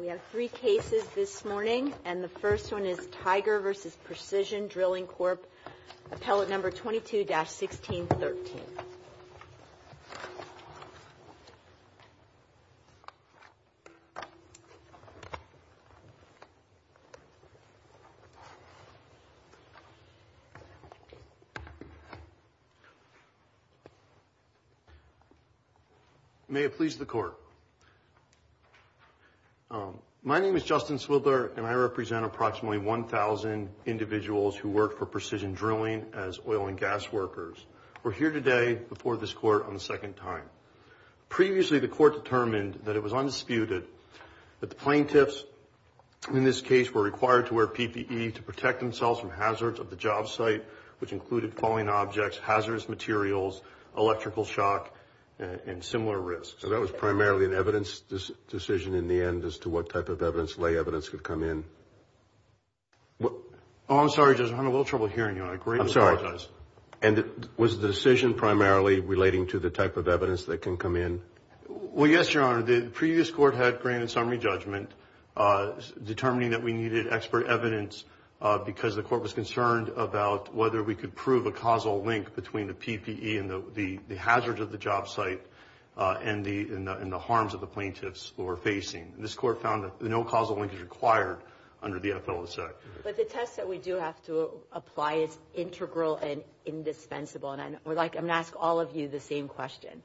We have three cases this morning, and the first one is Tiger v. Precision Drilling Corp. Appellate No. 22-1613. May it please the Court. My name is Justin Swidler, and I represent approximately 1,000 individuals who work for precision drilling as oil and gas workers. We're here today before this Court on the second time. Previously, the Court determined that it was undisputed that the plaintiffs in this case were required to wear PPE to protect themselves from hazards of the job site, which included falling objects, hazardous materials, electrical shock, and similar risks. So that was primarily an evidence decision in the end as to what type of evidence, lay evidence, could come in? I'm sorry, Justin, I'm having a little trouble hearing you. I greatly apologize. And was the decision primarily relating to the type of evidence that can come in? Well, yes, Your Honor. The previous Court had granted summary judgment determining that we needed expert evidence because the Court was concerned about whether we could prove a causal link between the PPE and the hazards of the job site and the harms of the plaintiffs who were facing. This Court found that no causal link is required under the Appellate Act. But the test that we do have to apply is integral and indispensable. And I'm going to ask all of you the same question.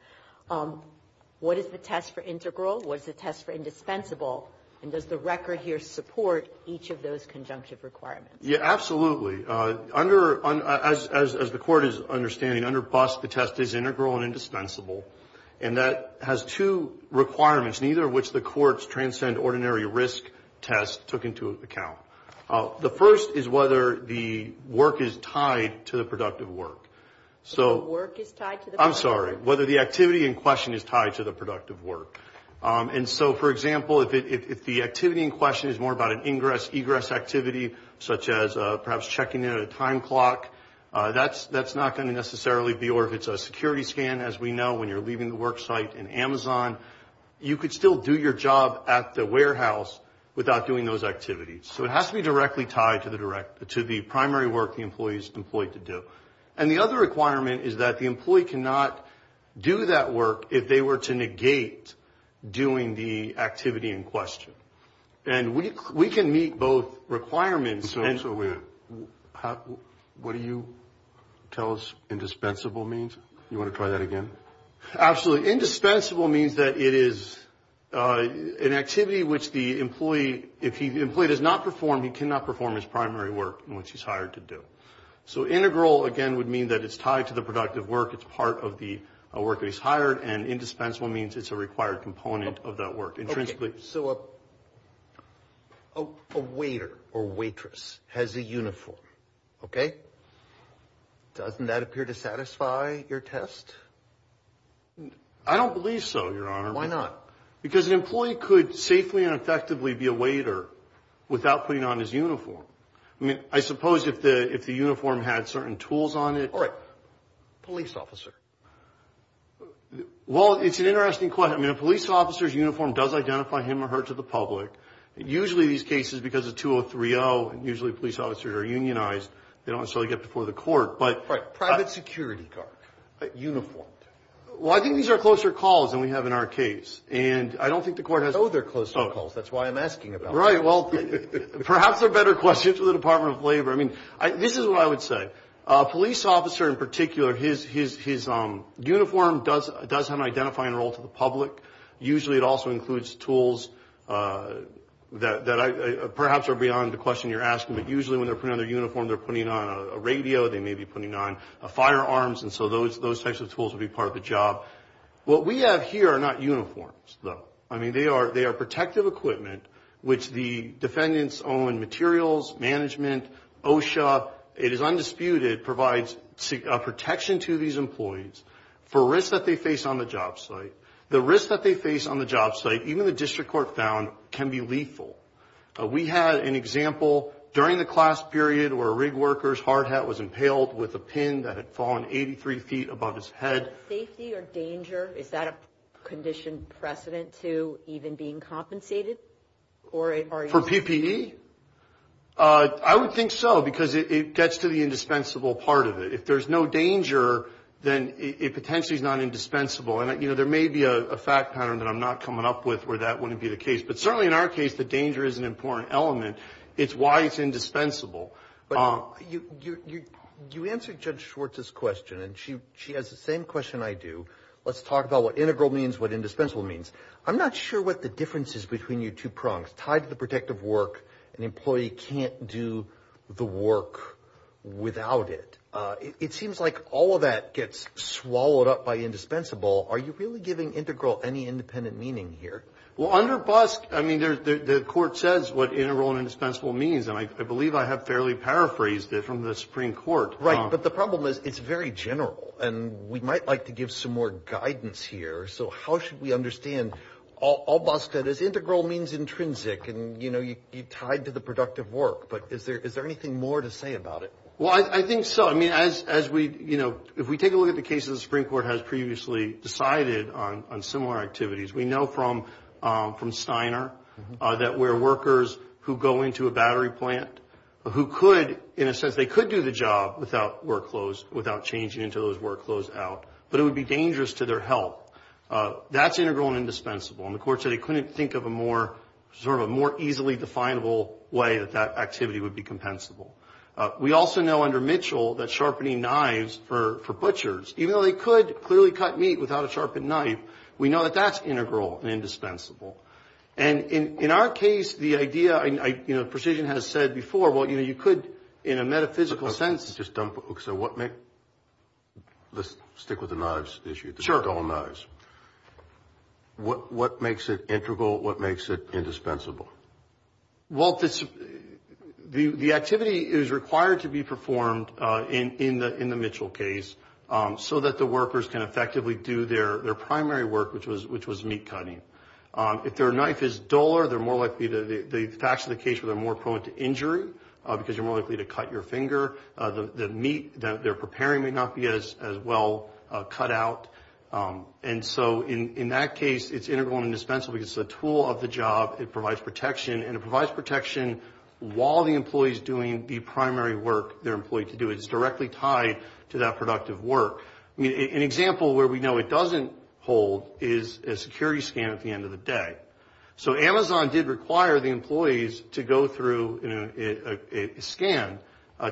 What is the test for integral? What is the test for indispensable? And does the record here support each of those conjunctive requirements? Yeah, absolutely. As the Court is understanding, under BUS, the test is integral and indispensable. And that has two requirements, neither of which the Court's transcend ordinary risk test took into account. The first is whether the work is tied to the productive work. The work is tied to the productive work? I'm sorry, whether the activity in question is tied to the productive work. And so, for example, if the activity in question is more about an ingress, egress activity, such as perhaps checking in at a time clock, that's not going to necessarily be, or if it's a security scan, as we know, when you're leaving the work site in Amazon, you could still do your job at the warehouse without doing those activities. So it has to be directly tied to the primary work the employee is employed to do. And the other requirement is that the employee cannot do that work if they were to negate doing the activity in question. And we can meet both requirements. So what do you tell us indispensable means? You want to try that again? Absolutely. Indispensable means that it is an activity which the employee, if the employee does not perform, he cannot perform his primary work in which he's hired to do. So integral, again, would mean that it's tied to the productive work. It's part of the work that he's hired. And indispensable means it's a required component of that work intrinsically. So a waiter or waitress has a uniform, okay? Doesn't that appear to satisfy your test? I don't believe so, Your Honor. Why not? Because an employee could safely and effectively be a waiter without putting on his uniform. I mean, I suppose if the uniform had certain tools on it. All right. Police officer. Well, it's an interesting question. I mean, a police officer's uniform does identify him or her to the public. Usually these cases, because of 2030, usually police officers are unionized. They don't necessarily get before the court. Right. Private security guard. Uniformed. Well, I think these are closer calls than we have in our case. And I don't think the court has. No, they're closer calls. That's why I'm asking about that. Right. Well, perhaps they're better questions for the Department of Labor. I mean, this is what I would say. A police officer in particular, his uniform does have an identifying role to the public. Usually it also includes tools that perhaps are beyond the question you're asking. But usually when they're putting on their uniform, they're putting on a radio. They may be putting on firearms. And so those types of tools would be part of the job. What we have here are not uniforms, though. I mean, they are protective equipment, which the defendants own materials, management, OSHA. It is undisputed. It provides protection to these employees for risks that they face on the job site. The risks that they face on the job site, even the district court found, can be lethal. We had an example during the class period where a rig worker's hard hat was impaled with a pin that had fallen 83 feet above his head. Is that safety or danger? Is that a condition precedent to even being compensated? For PPE? I would think so, because it gets to the indispensable part of it. If there's no danger, then it potentially is not indispensable. And, you know, there may be a fact pattern that I'm not coming up with where that wouldn't be the case. But certainly in our case, the danger is an important element. It's why it's indispensable. But you answered Judge Schwartz's question, and she has the same question I do. Let's talk about what integral means, what indispensable means. I'm not sure what the difference is between your two prongs. Tied to the protective work, an employee can't do the work without it. It seems like all of that gets swallowed up by indispensable. Are you really giving integral any independent meaning here? Well, under BUSC, I mean, the court says what integral and indispensable means, and I believe I have fairly paraphrased it from the Supreme Court. Right, but the problem is it's very general, and we might like to give some more guidance here. So how should we understand all BUSC that is integral means intrinsic, and, you know, you tied to the productive work. But is there anything more to say about it? Well, I think so. I mean, as we, you know, if we take a look at the cases the Supreme Court has previously decided on similar activities, we know from Steiner that where workers who go into a battery plant who could, in a sense, they could do the job without changing into those work clothes out, but it would be dangerous to their health. That's integral and indispensable. And the court said it couldn't think of a more sort of a more easily definable way that that activity would be compensable. We also know under Mitchell that sharpening knives for butchers, even though they could clearly cut meat without a sharpened knife, we know that that's integral and indispensable. And in our case, the idea, you know, Precision has said before, well, you know, you could, in a metaphysical sense. Let's stick with the knives issue. Sure. The dull knives. What makes it integral? What makes it indispensable? Well, the activity is required to be performed in the Mitchell case so that the workers can effectively do their primary work, which was meat cutting. If their knife is duller, they're more likely to, the facts of the case where they're more prone to injury because you're more likely to cut your finger. The meat that they're preparing may not be as well cut out. And so in that case, it's integral and indispensable because it's a tool of the job. It provides protection, and it provides protection while the employee is doing the primary work their employee can do. It's directly tied to that productive work. I mean, an example where we know it doesn't hold is a security scan at the end of the day. So Amazon did require the employees to go through a scan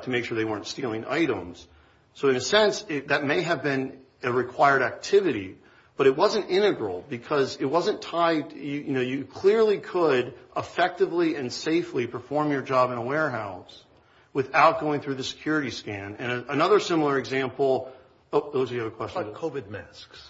to make sure they weren't stealing items. So in a sense, that may have been a required activity, but it wasn't integral because it wasn't tied. You know, you clearly could effectively and safely perform your job in a warehouse without going through the security scan. And another similar example – oh, those of you who have a question. What about COVID masks?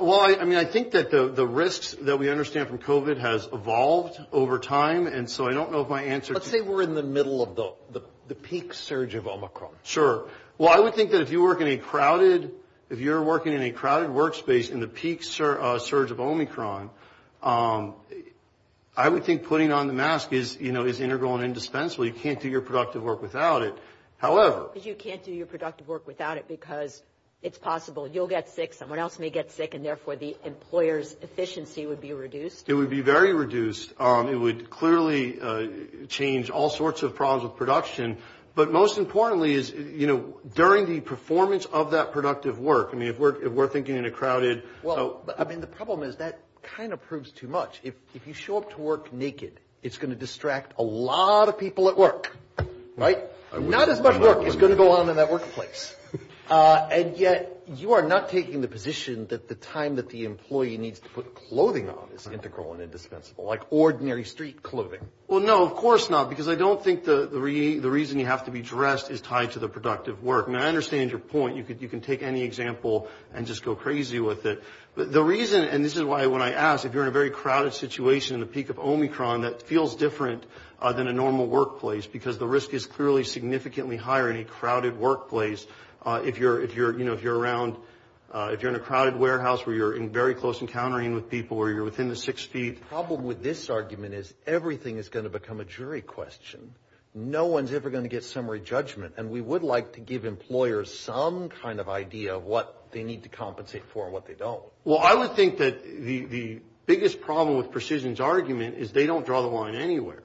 Well, I mean, I think that the risks that we understand from COVID has evolved over time, and so I don't know if my answer to – Let's say we're in the middle of the peak surge of Omicron. Sure. Well, I would think that if you work in a crowded – if you're working in a crowded workspace in the peak surge of Omicron, I would think putting on the mask is, you know, is integral and indispensable. You can't do your productive work without it. However – You can't do your productive work without it because it's possible you'll get sick, someone else may get sick, and therefore the employer's efficiency would be reduced. It would be very reduced. It would clearly change all sorts of problems with production. But most importantly is, you know, during the performance of that productive work – I mean, if we're thinking in a crowded – I mean, the problem is that kind of proves too much. If you show up to work naked, it's going to distract a lot of people at work, right? Not as much work is going to go on in that workplace. And yet you are not taking the position that the time that the employee needs to put clothing on is integral and indispensable, like ordinary street clothing. Well, no, of course not, because I don't think the reason you have to be dressed is tied to the productive work. And I understand your point. You can take any example and just go crazy with it. But the reason – and this is why when I ask, if you're in a very crowded situation in the peak of Omicron, that feels different than a normal workplace because the risk is clearly significantly higher in a crowded workplace. If you're, you know, if you're around – if you're in a crowded warehouse where you're in very close encountering with people, where you're within the six feet. The problem with this argument is everything is going to become a jury question. No one's ever going to get summary judgment. And we would like to give employers some kind of idea of what they need to compensate for and what they don't. Well, I would think that the biggest problem with Precision's argument is they don't draw the line anywhere.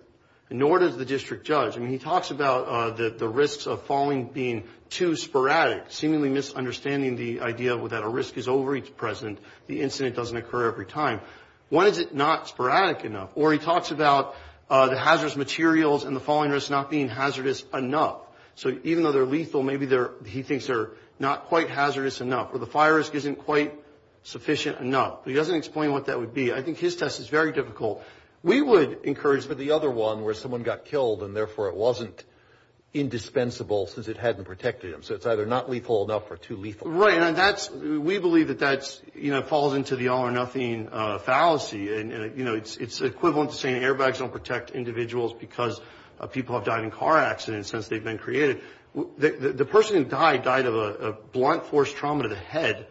Nor does the district judge. I mean, he talks about the risks of falling being too sporadic, seemingly misunderstanding the idea that a risk is always present, the incident doesn't occur every time. Why is it not sporadic enough? Or he talks about the hazardous materials and the falling risk not being hazardous enough. So even though they're lethal, maybe they're – he thinks they're not quite hazardous enough. Or the fire risk isn't quite sufficient enough. He doesn't explain what that would be. I think his test is very difficult. We would encourage for the other one where someone got killed and, therefore, it wasn't indispensable since it hadn't protected them. So it's either not lethal enough or too lethal. Right. And that's – we believe that that's, you know, falls into the all or nothing fallacy. And, you know, it's equivalent to saying airbags don't protect individuals because people have died in car accidents since they've been created. The person who died died of a blunt force trauma to the head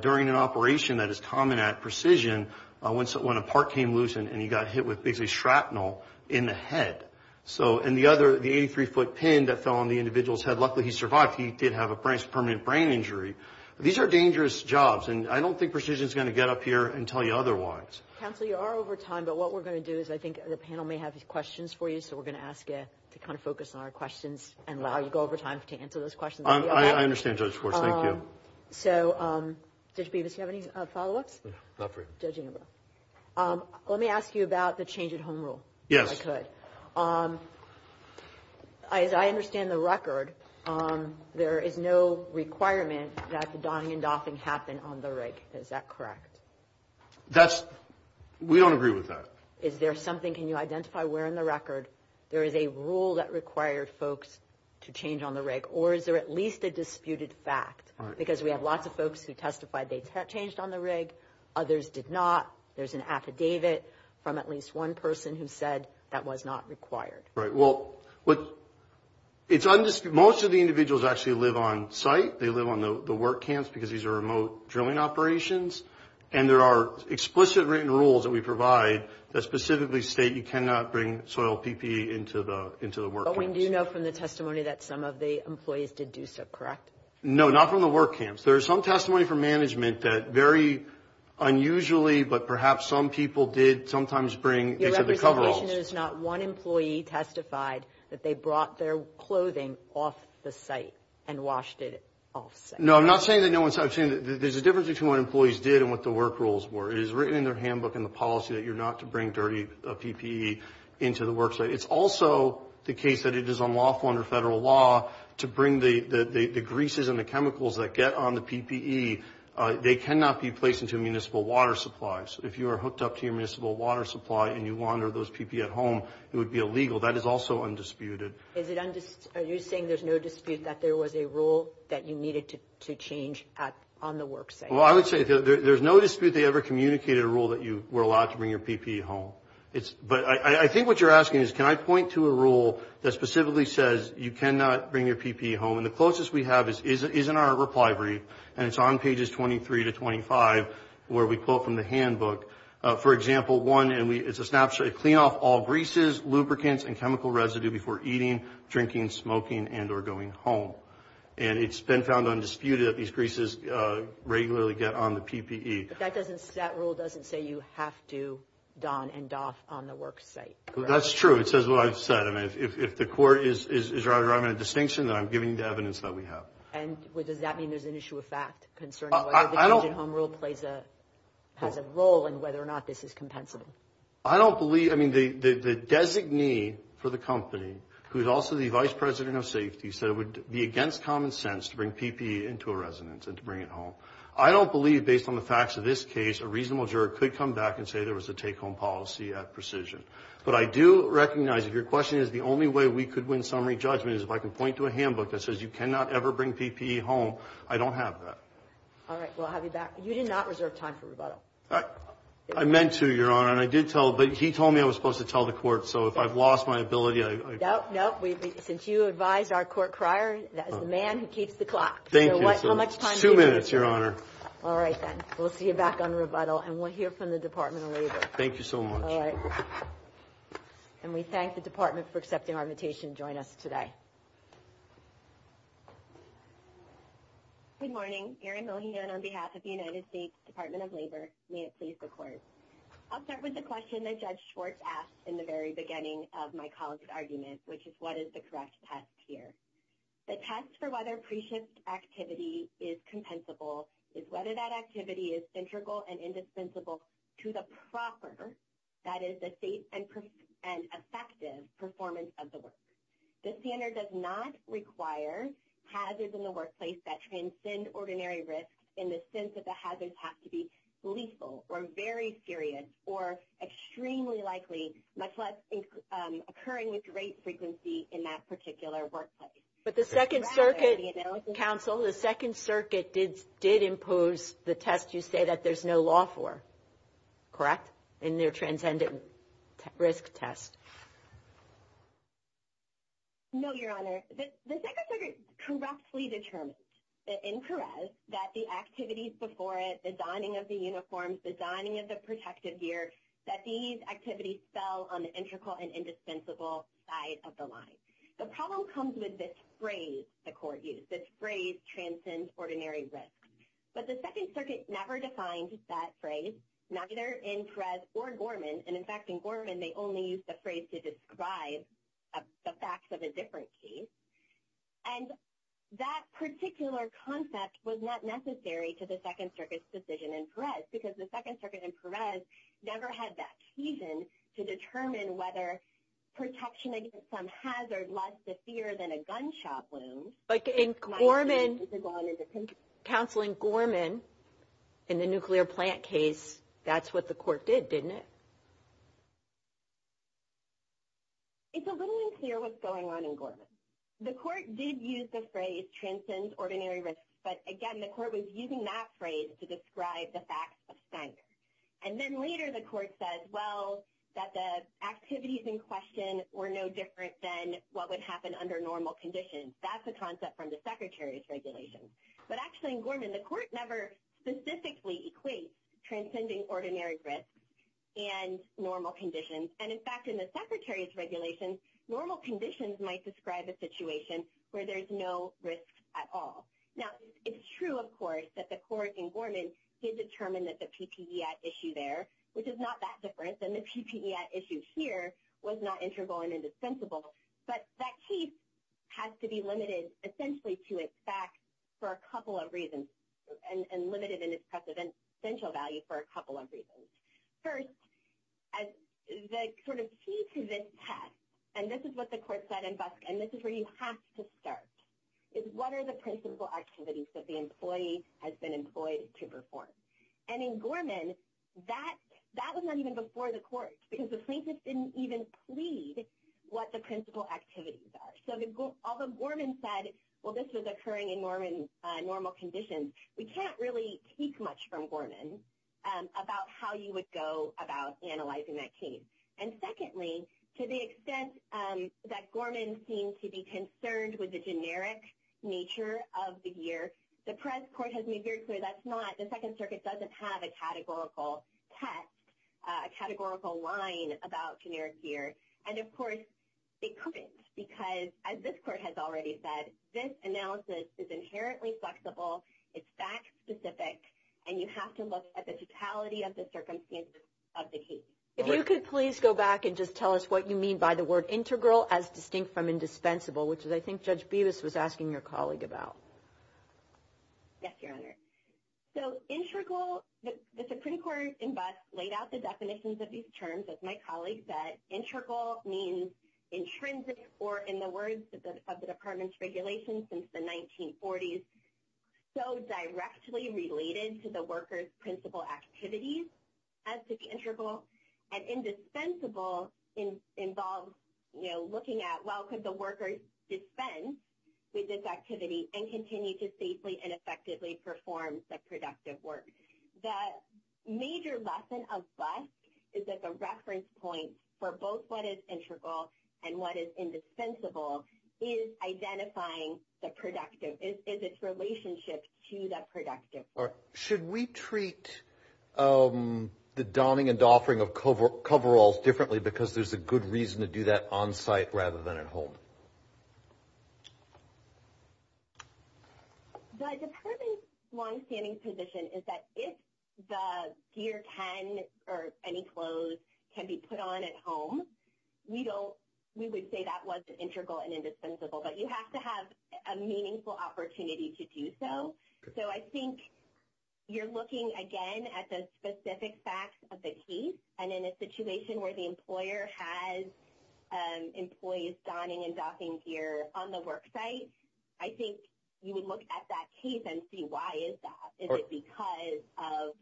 during an operation that is common at Precision when a part came loose and he got hit with basically shrapnel in the head. So – and the other – the 83-foot pin that fell on the individual's head, luckily he survived. He did have a permanent brain injury. These are dangerous jobs, and I don't think Precision is going to get up here and tell you otherwise. Counsel, you are over time, but what we're going to do is I think the panel may have questions for you, so we're going to ask you to kind of focus on our questions and allow you to go over time to answer those questions. I understand, Judge Schwartz. Thank you. So, Judge Bevis, do you have any follow-ups? No, not for you. Judge Inouye. Let me ask you about the change at home rule, if I could. Yes. As I understand the record, there is no requirement that the donning and doffing happen on the rig. Is that correct? That's – we don't agree with that. Is there something – can you identify where in the record there is a rule that required folks to change on the rig, or is there at least a disputed fact? Right. Because we have lots of folks who testified they changed on the rig. Others did not. There's an affidavit from at least one person who said that was not required. Right. Well, it's undisputed – most of the individuals actually live on site. They live on the work camps because these are remote drilling operations, and there are explicit written rules that we provide that specifically state you cannot bring soil PPE into the work camps. But we do know from the testimony that some of the employees did do so, correct? No, not from the work camps. There is some testimony from management that very unusually, but perhaps some people did sometimes bring into the coveralls. Your representation is not one employee testified that they brought their clothing off the site and washed it off site. No, I'm not saying that no one – I'm saying that there's a difference between what employees did and what the work rules were. It is written in their handbook in the policy that you're not to bring dirty PPE into the work site. It's also the case that it is unlawful under federal law to bring the greases and the chemicals that get on the PPE. They cannot be placed into municipal water supplies. If you are hooked up to your municipal water supply and you launder those PPE at home, it would be illegal. That is also undisputed. Are you saying there's no dispute that there was a rule that you needed to change on the work site? Well, I would say there's no dispute they ever communicated a rule that you were allowed to bring your PPE home. But I think what you're asking is, can I point to a rule that specifically says you cannot bring your PPE home? And the closest we have is in our reply brief, and it's on pages 23 to 25, where we quote from the handbook. For example, one, and it's a snapshot, clean off all greases, lubricants, and chemical residue before eating, drinking, smoking, and or going home. And it's been found undisputed that these greases regularly get on the PPE. But that rule doesn't say you have to don and doff on the work site. That's true. It says what I've said. I mean, if the court is driving a distinction, then I'm giving the evidence that we have. And what does that mean? There's an issue of fact concern. I don't get home rule plays a has a role in whether or not this is compensable. I don't believe I mean, the designee for the company, who is also the vice president of safety, said it would be against common sense to bring PPE into a residence and to bring it home. I don't believe, based on the facts of this case, a reasonable juror could come back and say there was a take home policy at precision. But I do recognize if your question is the only way we could win summary judgment is if I can point to a handbook that says you cannot ever bring PPE home. I don't have that. All right. We'll have you back. You did not reserve time for rebuttal. I meant to, Your Honor. And I did tell. But he told me I was supposed to tell the court. So if I've lost my ability, I don't know. We since you advised our court crier, that is the man who keeps the clock. Thank you so much. Two minutes, Your Honor. All right. We'll see you back on rebuttal. And we'll hear from the Department of Labor. Thank you so much. And we thank the department for accepting our invitation. Join us today. Good morning. Erin Millian on behalf of the United States Department of Labor. May it please the court. I'll start with the question that Judge Schwartz asked in the very beginning of my colleague's argument, which is what is the correct test here? The test for whether pre-shift activity is compensable is whether that activity is integral and indispensable to the proper, that is, the safe and effective performance of the work. The standard does not require hazards in the workplace that transcend ordinary risk in the sense that the hazards have to be lethal or very serious or extremely likely, much less occurring with great frequency in that particular workplace. But the Second Circuit, counsel, the Second Circuit did impose the test you say that there's no law for. Correct? In their transcendent risk test. No, Your Honor. The Second Circuit correctly determined in Perez that the activities before it, the donning of the uniforms, the donning of the protective gear, that these activities fell on the integral and indispensable side of the line. The problem comes with this phrase the court used. This phrase transcends ordinary risk. But the Second Circuit never defined that phrase, neither in Perez or Gorman. And in fact, in Gorman, they only used the phrase to describe the facts of a different case. And that particular concept was not necessary to the Second Circuit's decision in Perez because the Second Circuit in Perez never had that occasion to determine whether protection against some hazard less severe than a gunshot wound. But in Gorman, counseling Gorman in the nuclear plant case, that's what the court did, didn't it? It's a little unclear what's going on in Gorman. The court did use the phrase transcends ordinary risk, but again, the court was using that phrase to describe the facts of stank. And then later the court said, well, that the activities in question were no different than what would happen under normal conditions. That's a concept from the Secretary's regulation. But actually in Gorman, the court never specifically equates transcending ordinary risk and normal conditions. And in fact, in the Secretary's regulation, normal conditions might describe a situation where there's no risk at all. Now, it's true, of course, that the court in Gorman did determine that the PPE at issue there, which is not that different than the PPE at issue here, was not integral and indispensable. But that case has to be limited essentially to its facts for a couple of reasons, and limited in its essential value for a couple of reasons. First, the key to this test, and this is what the court said in Busk, and this is where you have to start, is what are the principal activities that the employee has been employed to perform? And in Gorman, that was not even before the court, because the plaintiff didn't even plead what the principal activities are. So although Gorman said, well, this was occurring in normal conditions, we can't really take much from Gorman about how you would go about analyzing that case. And secondly, to the extent that Gorman seemed to be concerned with the generic nature of the gear, the press court has made very clear that's not, the Second Circuit doesn't have a categorical test, a categorical line about generic gear. And of course, they couldn't, because as this court has already said, this analysis is inherently flexible, it's fact-specific, and you have to look at the totality of the circumstances of the case. If you could please go back and just tell us what you mean by the word integral as distinct from indispensable, which I think Judge Bevis was asking your colleague about. Yes, Your Honor. So integral, the Supreme Court laid out the definitions of these terms, as my colleague said. Integral means intrinsic, or in the words of the Department's regulations since the 1940s, so directly related to the worker's principal activities as to the integral. And indispensable involves looking at, well, could the worker dispense with this activity and continue to safely and effectively perform the productive work? The major lesson of BUST is that the reference point for both what is integral and what is indispensable is identifying the productive, is its relationship to the productive work. Your Honor, should we treat the donning and doffing of coveralls differently because there's a good reason to do that on-site rather than at home? The Department's longstanding position is that if the gear can, or any clothes, can be put on at home, we don't, we would say that was integral and indispensable. But you have to have a meaningful opportunity to do so. So I think you're looking, again, at the specific facts of the case. And in a situation where the employer has employees donning and doffing gear on the work site, I think you would look at that case and see why is that. Is it because of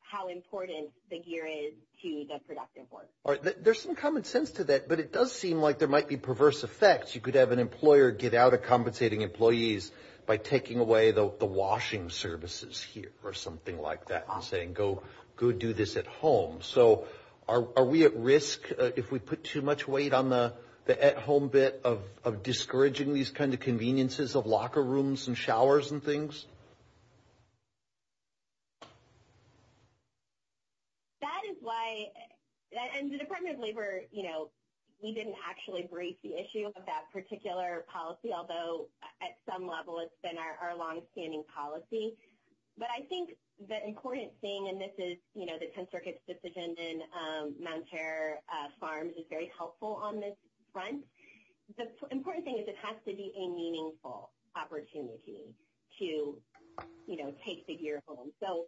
how important the gear is to the productive work? All right, there's some common sense to that, but it does seem like there might be perverse effects. You could have an employer get out of compensating employees by taking away the washing services here or something like that and saying, go do this at home. So are we at risk if we put too much weight on the at-home bit of discouraging these kind of conveniences of locker rooms and showers and things? That is why, and the Department of Labor, you know, we didn't actually raise the issue of that particular policy, although at some level it's been our longstanding policy. But I think the important thing, and this is, you know, the 10th Circuit's decision and Mounterra Farms is very helpful on this front. The important thing is it has to be a meaningful opportunity to, you know, take the gear home. So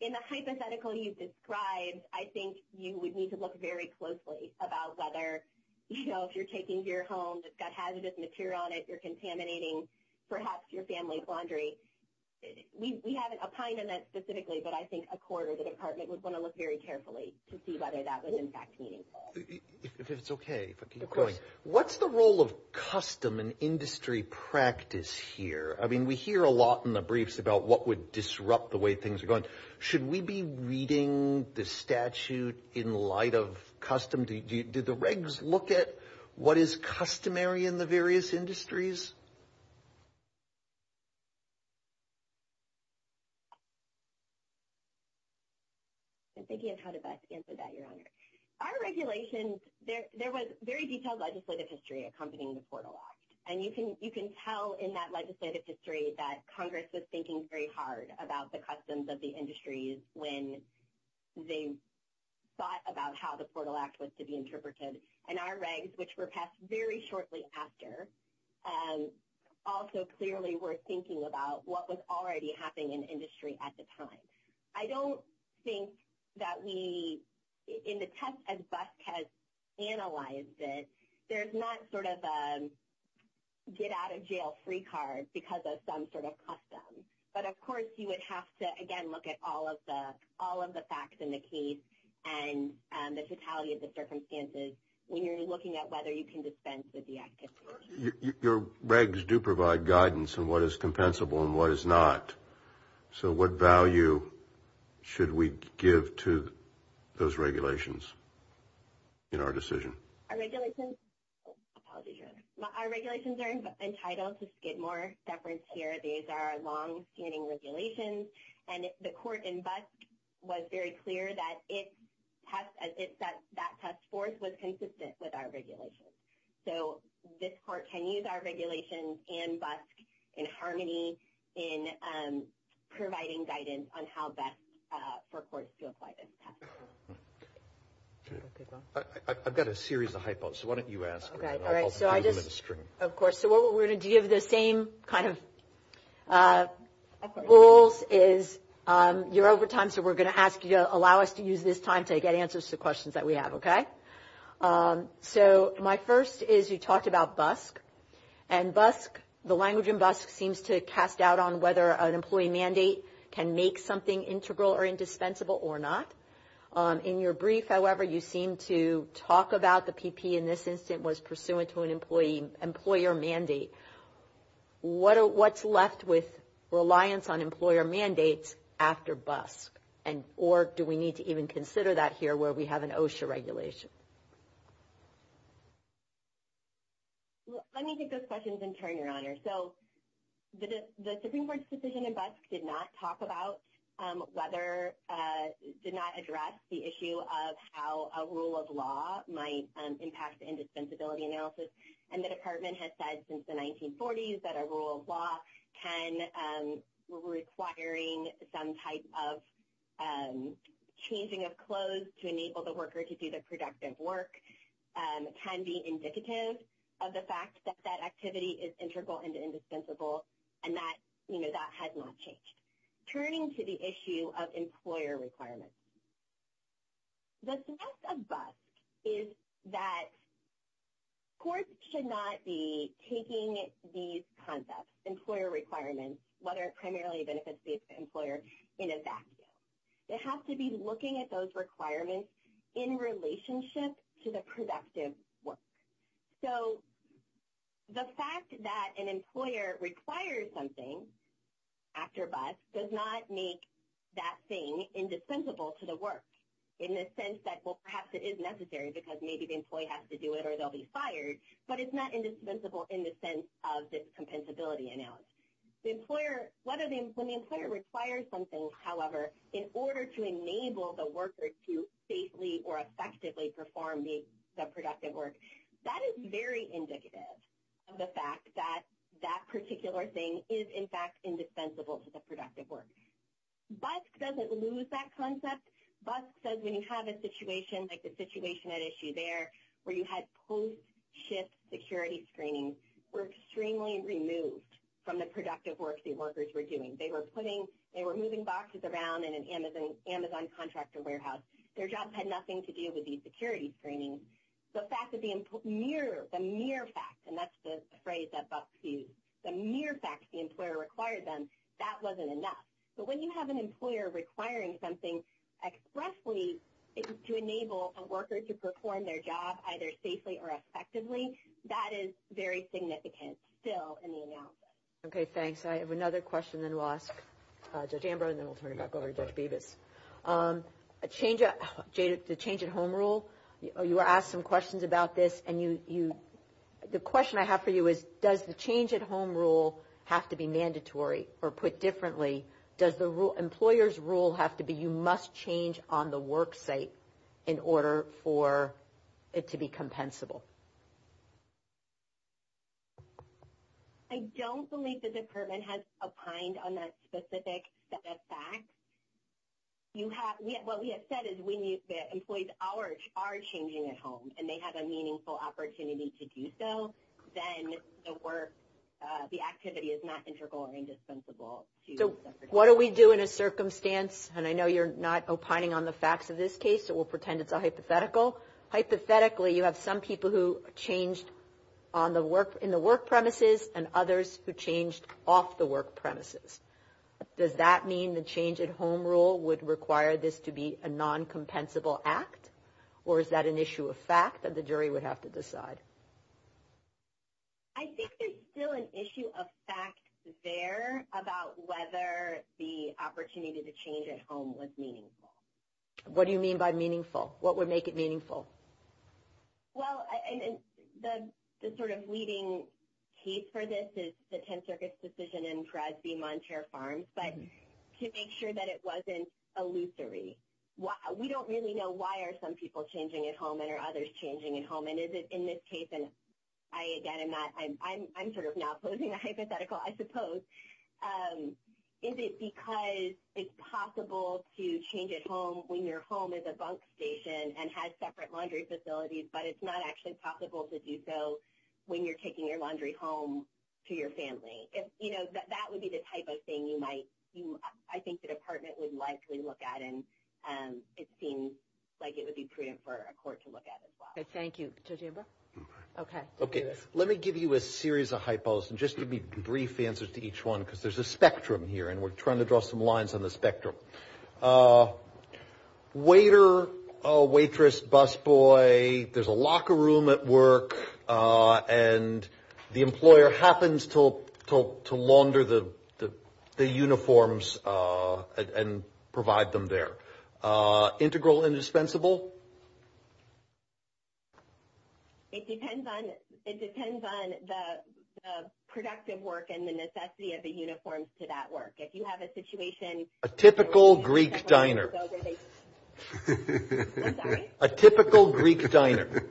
in the hypothetical you've described, I think you would need to look very closely about whether, you know, if you're taking gear home that's got hazardous material on it, you're contaminating perhaps your family's laundry. We haven't opined on that specifically, but I think a court or the department would want to look very carefully to see whether that was in fact meaningful. If it's okay, if I can keep going. Of course. What's the role of custom and industry practice here? I mean, we hear a lot in the briefs about what would disrupt the way things are going. Should we be reading the statute in light of custom? Did the regs look at what is customary in the various industries? I'm thinking of how to best answer that, Your Honor. Our regulations, there was very detailed legislative history accompanying the portal law. And you can tell in that legislative history that Congress was thinking very hard about the customs of the industries when they thought about how the Portal Act was to be interpreted. And our regs, which were passed very shortly after, also clearly were thinking about what was already happening in industry at the time. I don't think that we, in the test as BUSC has analyzed it, there's not sort of a get-out-of-jail-free card because of some sort of custom. But, of course, you would have to, again, look at all of the facts in the case and the totality of the circumstances when you're looking at whether you can dispense with the activities. Your regs do provide guidance on what is compensable and what is not. So what value should we give to those regulations in our decision? Our regulations are entitled to Skidmore deference here. These are longstanding regulations. And the court in BUSC was very clear that that task force was consistent with our regulations. So this court can use our regulations in BUSC, in Harmony, in providing guidance on how best for courts to apply this task force. I've got a series of hypothesis. Why don't you ask? Okay. All right. So I just. Of course. So what we're going to do, you have the same kind of rules is you're over time, so we're going to ask you to allow us to use this time to get answers to questions that we have. Okay? So my first is you talked about BUSC. And BUSC, the language in BUSC seems to cast out on whether an employee mandate can make something integral or indispensable or not. In your brief, however, you seem to talk about the PP in this instance was pursuant to an employee, employer mandate. What's left with reliance on employer mandates after BUSC? Or do we need to even consider that here where we have an OSHA regulation? Let me take those questions in turn, Your Honor. So the Supreme Court's decision in BUSC did not talk about whether, did not address the issue of how a rule of law might impact the indispensability analysis. And the Department has said since the 1940s that a rule of law can, requiring some type of changing of clothes to enable the worker to do the productive work can be indicative of the fact that that activity is integral and indispensable. And that, you know, that has not changed. Turning to the issue of employer requirements. The success of BUSC is that courts should not be taking these concepts, employer requirements, whether it primarily benefits the employer, in a vacuum. They have to be looking at those requirements in relationship to the productive work. So the fact that an employer requires something after BUSC does not make that thing indispensable to the work in the sense that, well, perhaps it is necessary because maybe the employee has to do it or they'll be fired. But it's not indispensable in the sense of this compensability analysis. The employer, when the employer requires something, however, in order to enable the worker to safely or effectively perform the productive work, that is very indicative of the fact that that particular thing is, in fact, indispensable to the productive work. BUSC doesn't lose that concept. BUSC says when you have a situation like the situation at issue there where you had post-shift security screenings were extremely removed from the productive work the workers were doing. They were putting, they were moving boxes around in an Amazon contractor warehouse. Their jobs had nothing to do with these security screenings. The fact that the mere, the mere fact, and that's the phrase that BUSC used, the mere fact the employer required them, that wasn't enough. But when you have an employer requiring something expressly to enable a worker to perform their job either safely or effectively, that is very significant still in the analysis. Okay, thanks. I have another question then we'll ask Judge Ambrose and then we'll turn it back over to Judge Bevis. The change at home rule, you were asked some questions about this and you, the question I have for you is does the change at home rule have to be mandatory or put differently? Does the employer's rule have to be you must change on the work site in order for it to be compensable? I don't believe the department has opined on that specific set of facts. You have, what we have said is when you, the employees are changing at home and they have a meaningful opportunity to do so, then the work, the activity is not integral or indispensable. So what do we do in a circumstance, and I know you're not opining on the facts of this case, so we'll pretend it's a hypothetical. Hypothetically, you have some people who changed in the work premises and others who changed off the work premises. Does that mean the change at home rule would require this to be a non-compensable act or is that an issue of fact that the jury would have to decide? I think there's still an issue of fact there about whether the opportunity to change at home was meaningful. What do you mean by meaningful? What would make it meaningful? Well, and the sort of leading case for this is the 10th Circuit's decision in Crasby Montere Farms, but to make sure that it wasn't illusory. We don't really know why are some people changing at home and are others changing at home, and is it in this case, and I, again, I'm sort of now posing a hypothetical, I suppose. Is it because it's possible to change at home when your home is a bunk station and has separate laundry facilities, but it's not actually possible to do so when you're taking your laundry home to your family? If, you know, that would be the type of thing you might, I think the Department would likely look at, and it seems like it would be prudent for a court to look at as well. Thank you. Okay. Okay. Let me give you a series of hypos and just give me brief answers to each one because there's a spectrum here, and we're trying to draw some lines on the spectrum. Waiter, waitress, busboy, there's a locker room at work, and the employer happens to launder the uniforms and provide them there. Integral and dispensable? It depends on the productive work and the necessity of the uniforms to that work. If you have a situation… A typical Greek diner. A typical Greek diner.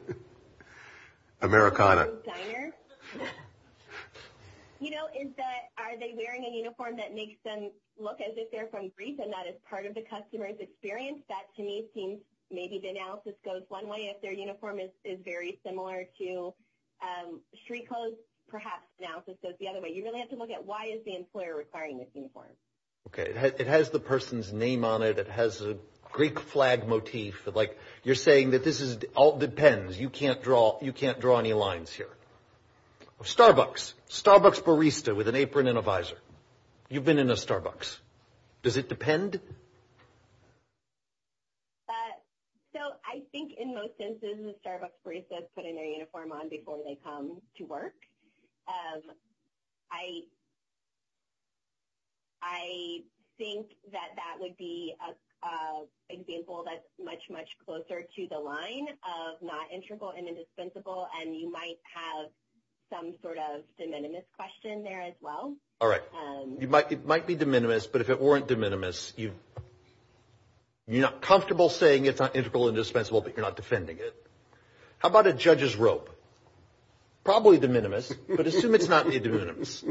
Americana. You know, is that, are they wearing a uniform that makes them look as if they're from Greece and that is part of the customer's experience? That, to me, seems maybe the analysis goes one way. If their uniform is very similar to Shrikho's, perhaps the analysis goes the other way. You really have to look at why is the employer requiring this uniform. Okay. It has the person's name on it. It has a Greek flag motif. Like, you're saying that this all depends. You can't draw any lines here. Starbucks. Starbucks barista with an apron and a visor. You've been in a Starbucks. Does it depend? So, I think in most instances, the Starbucks barista is putting their uniform on before they come to work. I think that that would be an example that's much, much closer to the line of not integral and indispensable, and you might have some sort of de minimis question there as well. All right. It might be de minimis, but if it weren't de minimis, you're not comfortable saying it's not integral and dispensable, but you're not defending it. How about a judge's rope? Probably de minimis, but assume it's not de minimis.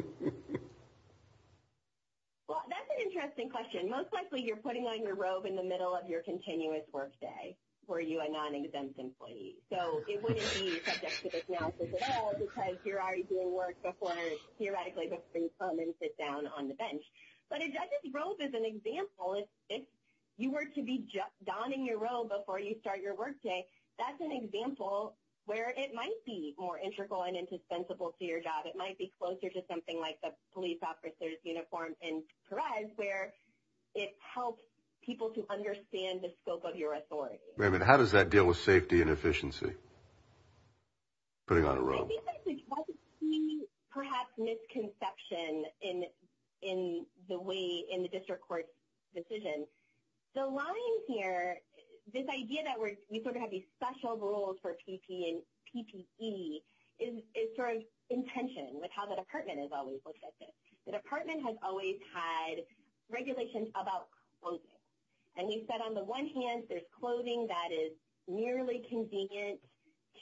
Well, that's an interesting question. Most likely, you're putting on your robe in the middle of your continuous work day for you, a non-exempt employee. So, it wouldn't be subject to this analysis at all because you're already doing work before, theoretically, before you come and sit down on the bench. But a judge's robe is an example. If you were to be donning your robe before you start your work day, that's an example where it might be more integral and indispensable to your job. It might be closer to something like the police officer's uniform in Perez, where it helps people to understand the scope of your authority. Wait a minute. How does that deal with safety and efficiency, putting on a robe? I think there's a key, perhaps, misconception in the way in the district court's decision. The line here, this idea that we sort of have these special rules for PPE, is sort of in tension with how the department has always looked at this. The department has always had regulations about clothing. And we said on the one hand, there's clothing that is merely convenient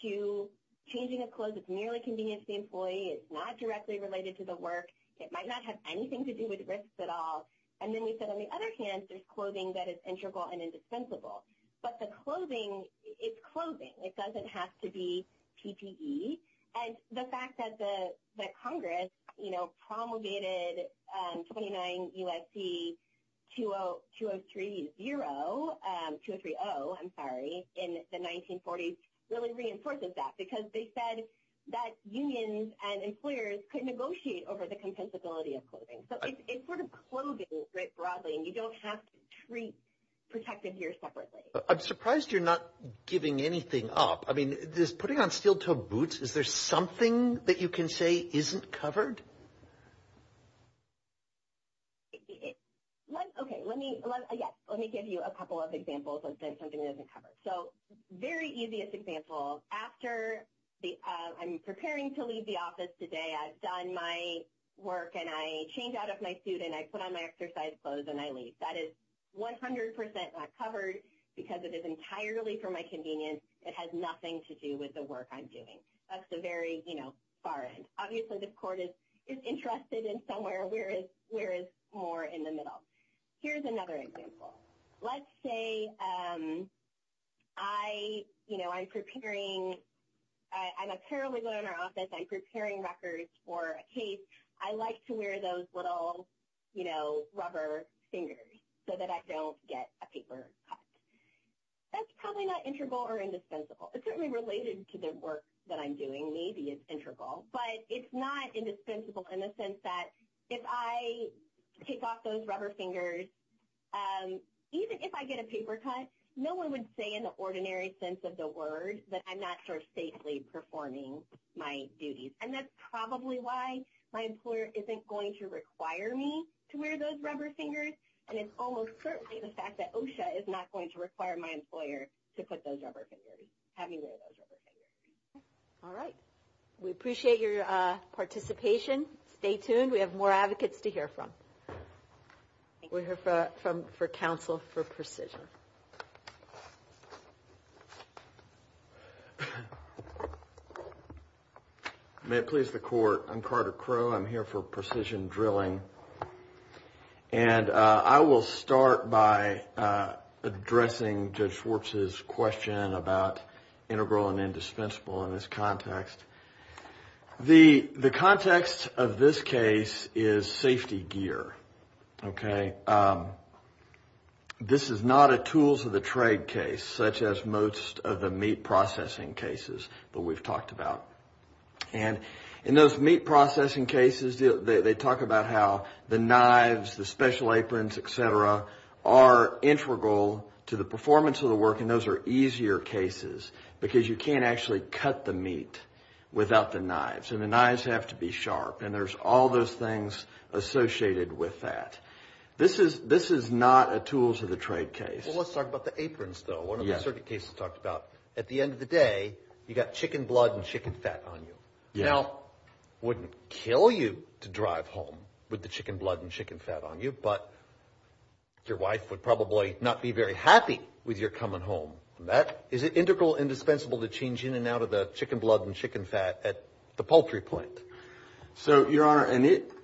to changing of clothes. It's merely convenient to the employee. It's not directly related to the work. It might not have anything to do with risks at all. And then we said on the other hand, there's clothing that is integral and indispensable. But the clothing, it's clothing. It doesn't have to be PPE. And the fact that Congress promulgated 29 U.S.C. 2030 in the 1940s really reinforces that. Because they said that unions and employers could negotiate over the compensability of clothing. So it's sort of clothing, right, broadly. And you don't have to treat protective gear separately. I'm surprised you're not giving anything up. I mean, is putting on steel-toed boots, is there something that you can say isn't covered? Okay, let me give you a couple of examples of something that isn't covered. So very easiest example, after I'm preparing to leave the office today, I've done my work and I change out of my suit and I put on my exercise clothes and I leave. That is 100% not covered because it is entirely for my convenience. It has nothing to do with the work I'm doing. That's the very far end. Obviously the court is interested in somewhere where it's more in the middle. Here's another example. Let's say I'm preparing, I'm a paralegal in our office, I'm preparing records for a case. I like to wear those little rubber fingers so that I don't get a paper cut. That's probably not integral or indispensable. It's certainly related to the work that I'm doing, maybe it's integral. But it's not indispensable in the sense that if I take off those rubber fingers, even if I get a paper cut, no one would say in the ordinary sense of the word that I'm not sort of safely performing my duties. And that's probably why my employer isn't going to require me to wear those rubber fingers, and it's almost certainly the fact that OSHA is not going to require my employer to put those rubber fingers, have me wear those rubber fingers. All right. We appreciate your participation. Stay tuned. We have more advocates to hear from. We'll hear from counsel for precision. May it please the court. I'm Carter Crowe. I'm here for precision drilling. And I will start by addressing Judge Schwartz's question about integral and indispensable in this context. The context of this case is safety gear, okay? This is not a tools of the trade case, such as most of the meat processing cases that we've talked about. And in those meat processing cases, they talk about how the knives, the special aprons, et cetera, are integral to the performance of the work, and those are easier cases because you can't actually cut the meat without the knives, and the knives have to be sharp. And there's all those things associated with that. This is not a tools of the trade case. Well, let's talk about the aprons, though. At the end of the day, you've got chicken blood and chicken fat on you. Now, it wouldn't kill you to drive home with the chicken blood and chicken fat on you, but your wife would probably not be very happy with your coming home. Is it integral, indispensable to change in and out of the chicken blood and chicken fat at the poultry point? So, Your Honor,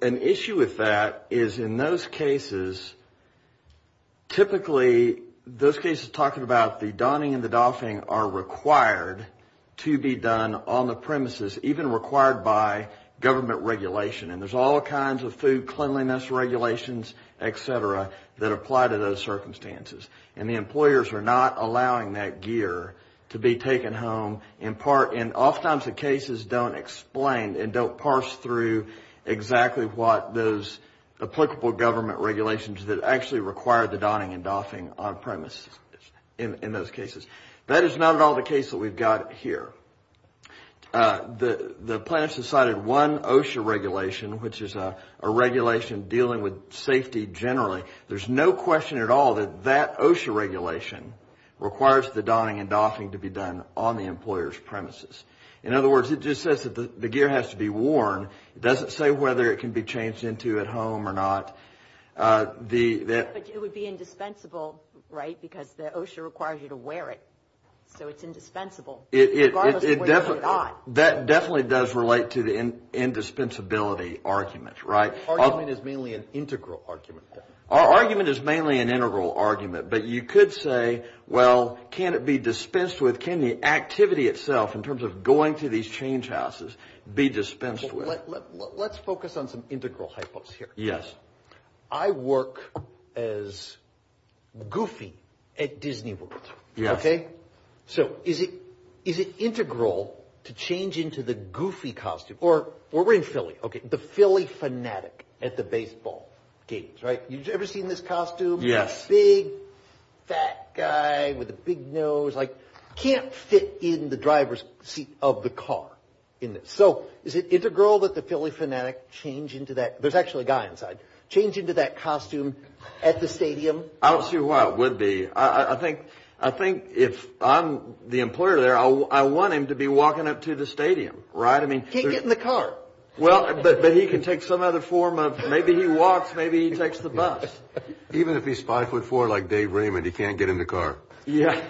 an issue with that is in those cases, typically those cases talking about the donning and the doffing are required to be done on the premises, even required by government regulation. And there's all kinds of food cleanliness regulations, et cetera, that apply to those circumstances, and the employers are not allowing that gear to be taken home in part. And oftentimes the cases don't explain and don't parse through exactly what those applicable government regulations that actually require the donning and doffing on premises in those cases. That is not at all the case that we've got here. The plaintiff's decided one OSHA regulation, which is a regulation dealing with safety generally, there's no question at all that that OSHA regulation requires the donning and doffing to be done on the employer's premises. In other words, it just says that the gear has to be worn. It doesn't say whether it can be changed into at home or not. But it would be indispensable, right? Because the OSHA requires you to wear it, so it's indispensable. Regardless of where you put it on. That definitely does relate to the indispensability argument, right? Our argument is mainly an integral argument. Our argument is mainly an integral argument, but you could say, well, can it be dispensed with? Or can the activity itself, in terms of going to these change houses, be dispensed with? Let's focus on some integral hypothesis here. Yes. I work as Goofy at Disney World, okay? Yes. So is it integral to change into the Goofy costume, or we're in Philly, okay, the Philly fanatic at the baseball games, right? Have you ever seen this costume? Yes. Big, fat guy with a big nose, like can't fit in the driver's seat of the car. So is it integral that the Philly fanatic change into that? There's actually a guy inside. Change into that costume at the stadium? I don't see why it would be. I think if I'm the employer there, I want him to be walking up to the stadium, right? Can't get in the car. Well, but he can take some other form of maybe he walks, maybe he takes the bus. Even if he's 5'4", like Dave Raymond, he can't get in the car. Yeah.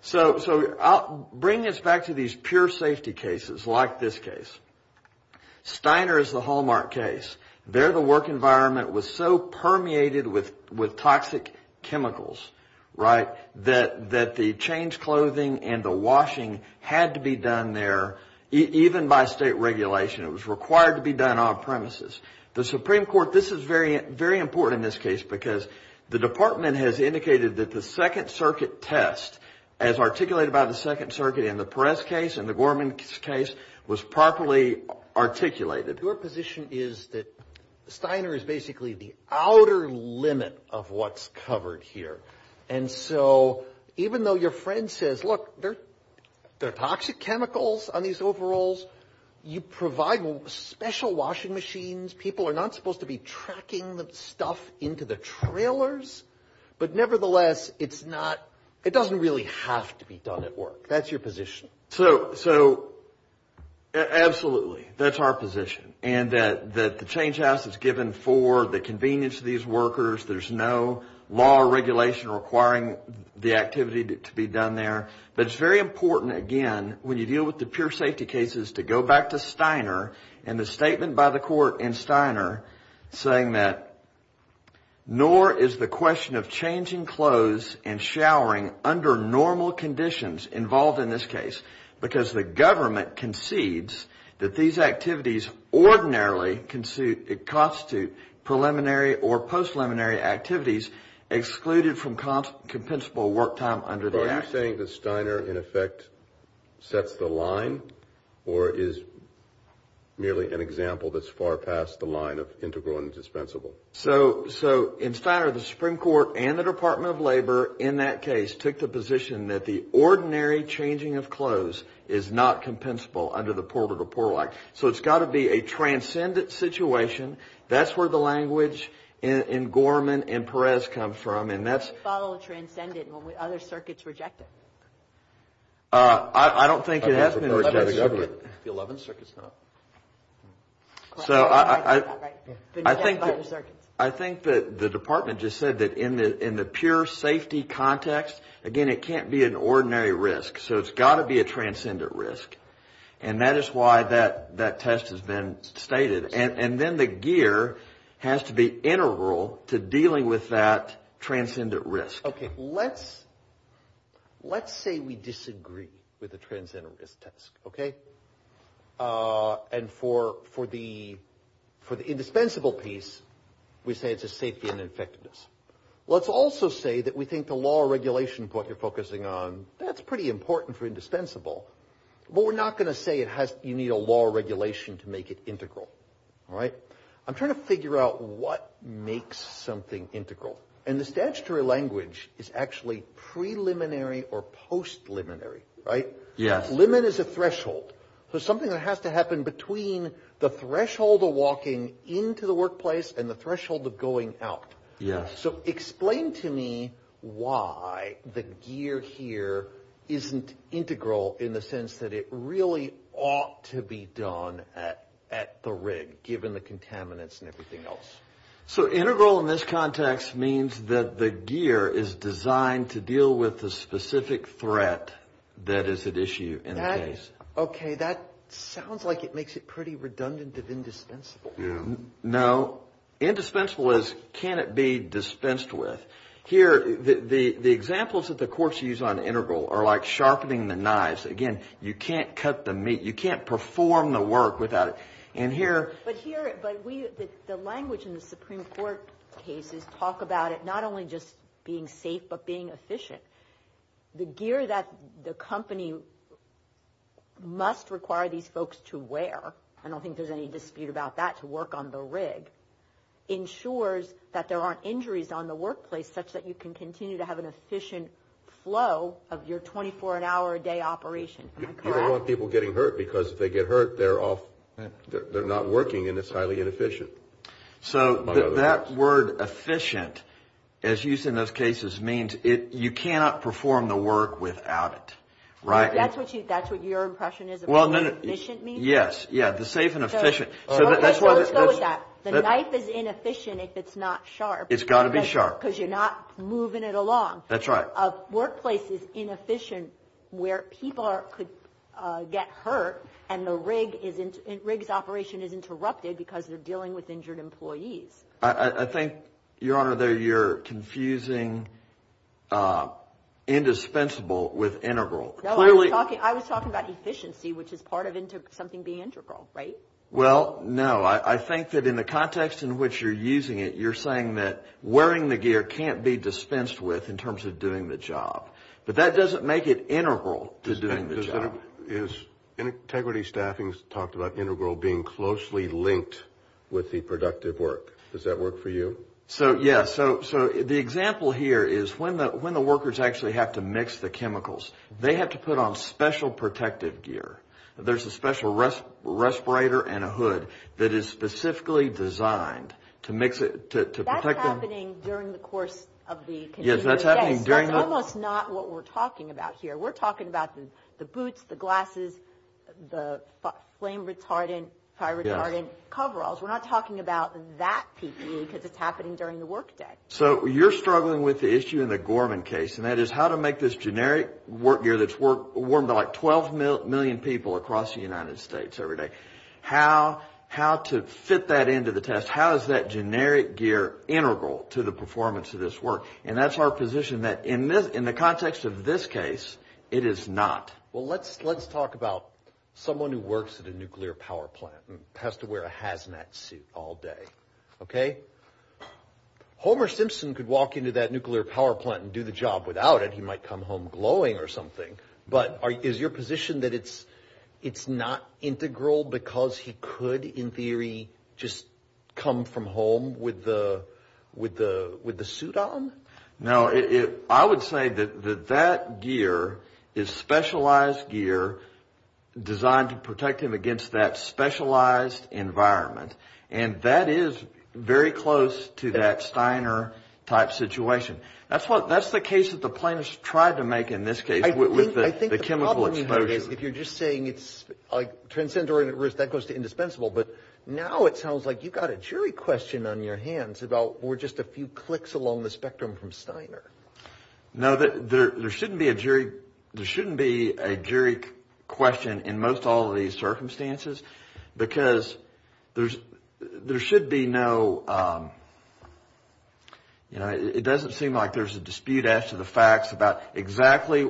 So bring us back to these pure safety cases, like this case. Steiner is the Hallmark case. There the work environment was so permeated with toxic chemicals, right, that the changed clothing and the washing had to be done there, even by state regulation. It was required to be done on premises. The Supreme Court, this is very important in this case, because the department has indicated that the Second Circuit test, as articulated by the Second Circuit in the Perez case and the Gorman case, was properly articulated. Your position is that Steiner is basically the outer limit of what's covered here. And so even though your friend says, look, there are toxic chemicals on these overalls, you provide special washing machines. People are not supposed to be tracking the stuff into the trailers. But nevertheless, it's not – it doesn't really have to be done at work. That's your position. So, absolutely, that's our position. And that the change house is given for the convenience of these workers. There's no law or regulation requiring the activity to be done there. But it's very important, again, when you deal with the pure safety cases, to go back to Steiner and the statement by the court in Steiner saying that nor is the question of changing clothes and showering under normal conditions involved in this case because the government concedes that these activities ordinarily constitute preliminary or post-preliminary activities excluded from compensable work time under the Act. So are you saying that Steiner, in effect, sets the line or is merely an example that's far past the line of integral and dispensable? So in Steiner, the Supreme Court and the Department of Labor in that case took the position that the ordinary changing of clothes is not compensable under the Porter v. Porlock. So it's got to be a transcendent situation. That's where the language in Gorman and Perez come from. Why follow a transcendent when other circuits reject it? I don't think it has been rejected. The 11th circuit's not. So I think the department just said that in the pure safety context, again, it can't be an ordinary risk. So it's got to be a transcendent risk. And that is why that test has been stated. And then the gear has to be integral to dealing with that transcendent risk. Okay, let's say we disagree with the transcendent risk test, okay? And for the indispensable piece, we say it's a safety and effectiveness. Let's also say that we think the law or regulation point you're focusing on, that's pretty important for indispensable. But we're not going to say you need a law or regulation to make it integral, all right? I'm trying to figure out what makes something integral. And the statutory language is actually preliminary or post-liminary, right? Limit is a threshold. So something that has to happen between the threshold of walking into the workplace and the threshold of going out. So explain to me why the gear here isn't integral in the sense that it really ought to be done at the rig, given the contaminants and everything else. So integral in this context means that the gear is designed to deal with the specific threat that is at issue in the case. Okay, that sounds like it makes it pretty redundant of indispensable. Yeah. No. Indispensable is can it be dispensed with. Here, the examples that the courts use on integral are like sharpening the knives. Again, you can't cut the meat. You can't perform the work without it. And here. But here, the language in the Supreme Court cases talk about it not only just being safe but being efficient. The gear that the company must require these folks to wear, I don't think there's any dispute about that, to work on the rig, ensures that there aren't injuries on the workplace such that you can continue to have an efficient flow of your 24-hour-a-day operation. Am I correct? You don't want people getting hurt because if they get hurt, they're not working and it's highly inefficient. So that word efficient, as used in those cases, means you cannot perform the work without it, right? That's what your impression is of what efficient means? Yes. Yeah. The safe and efficient. Okay. So let's go with that. The knife is inefficient if it's not sharp. It's got to be sharp. Because you're not moving it along. That's right. A workplace is inefficient where people could get hurt and the rig's operation is interrupted because they're dealing with injured employees. I think, Your Honor, that you're confusing indispensable with integral. No, I was talking about efficiency, which is part of something being integral, right? Well, no. I think that in the context in which you're using it, you're saying that wearing the gear can't be dispensed with in terms of doing the job. But that doesn't make it integral to doing the job. Is integrity staffings talked about integral being closely linked with the productive work? Does that work for you? So, yes. So the example here is when the workers actually have to mix the chemicals, they have to put on special protective gear. There's a special respirator and a hood that is specifically designed to mix it, to protect them. That's happening during the course of the continuous day. Yes, that's happening during the – That's almost not what we're talking about here. We're talking about the boots, the glasses, the flame-retardant, fire-retardant coveralls. We're not talking about that PPE because it's happening during the work day. So you're struggling with the issue in the Gorman case, and that is how to make this generic work gear that's worn by like 12 million people across the United States every day. How to fit that into the test? How is that generic gear integral to the performance of this work? And that's our position that in the context of this case, it is not. Well, let's talk about someone who works at a nuclear power plant and has to wear a hazmat suit all day, okay? Homer Simpson could walk into that nuclear power plant and do the job without it. He might come home glowing or something. But is your position that it's not integral because he could, in theory, just come from home with the suit on? No. I would say that that gear is specialized gear designed to protect him against that specialized environment. And that is very close to that Steiner-type situation. That's the case that the plaintiffs tried to make in this case with the chemical exposure. I think the problem you have is if you're just saying it's like transcendent risk, that goes to indispensable. But now it sounds like you've got a jury question on your hands about we're just a few clicks along the spectrum from Steiner. No, there shouldn't be a jury question in most all of these circumstances because there should be no, you know, it doesn't seem like there's a dispute as to the facts about exactly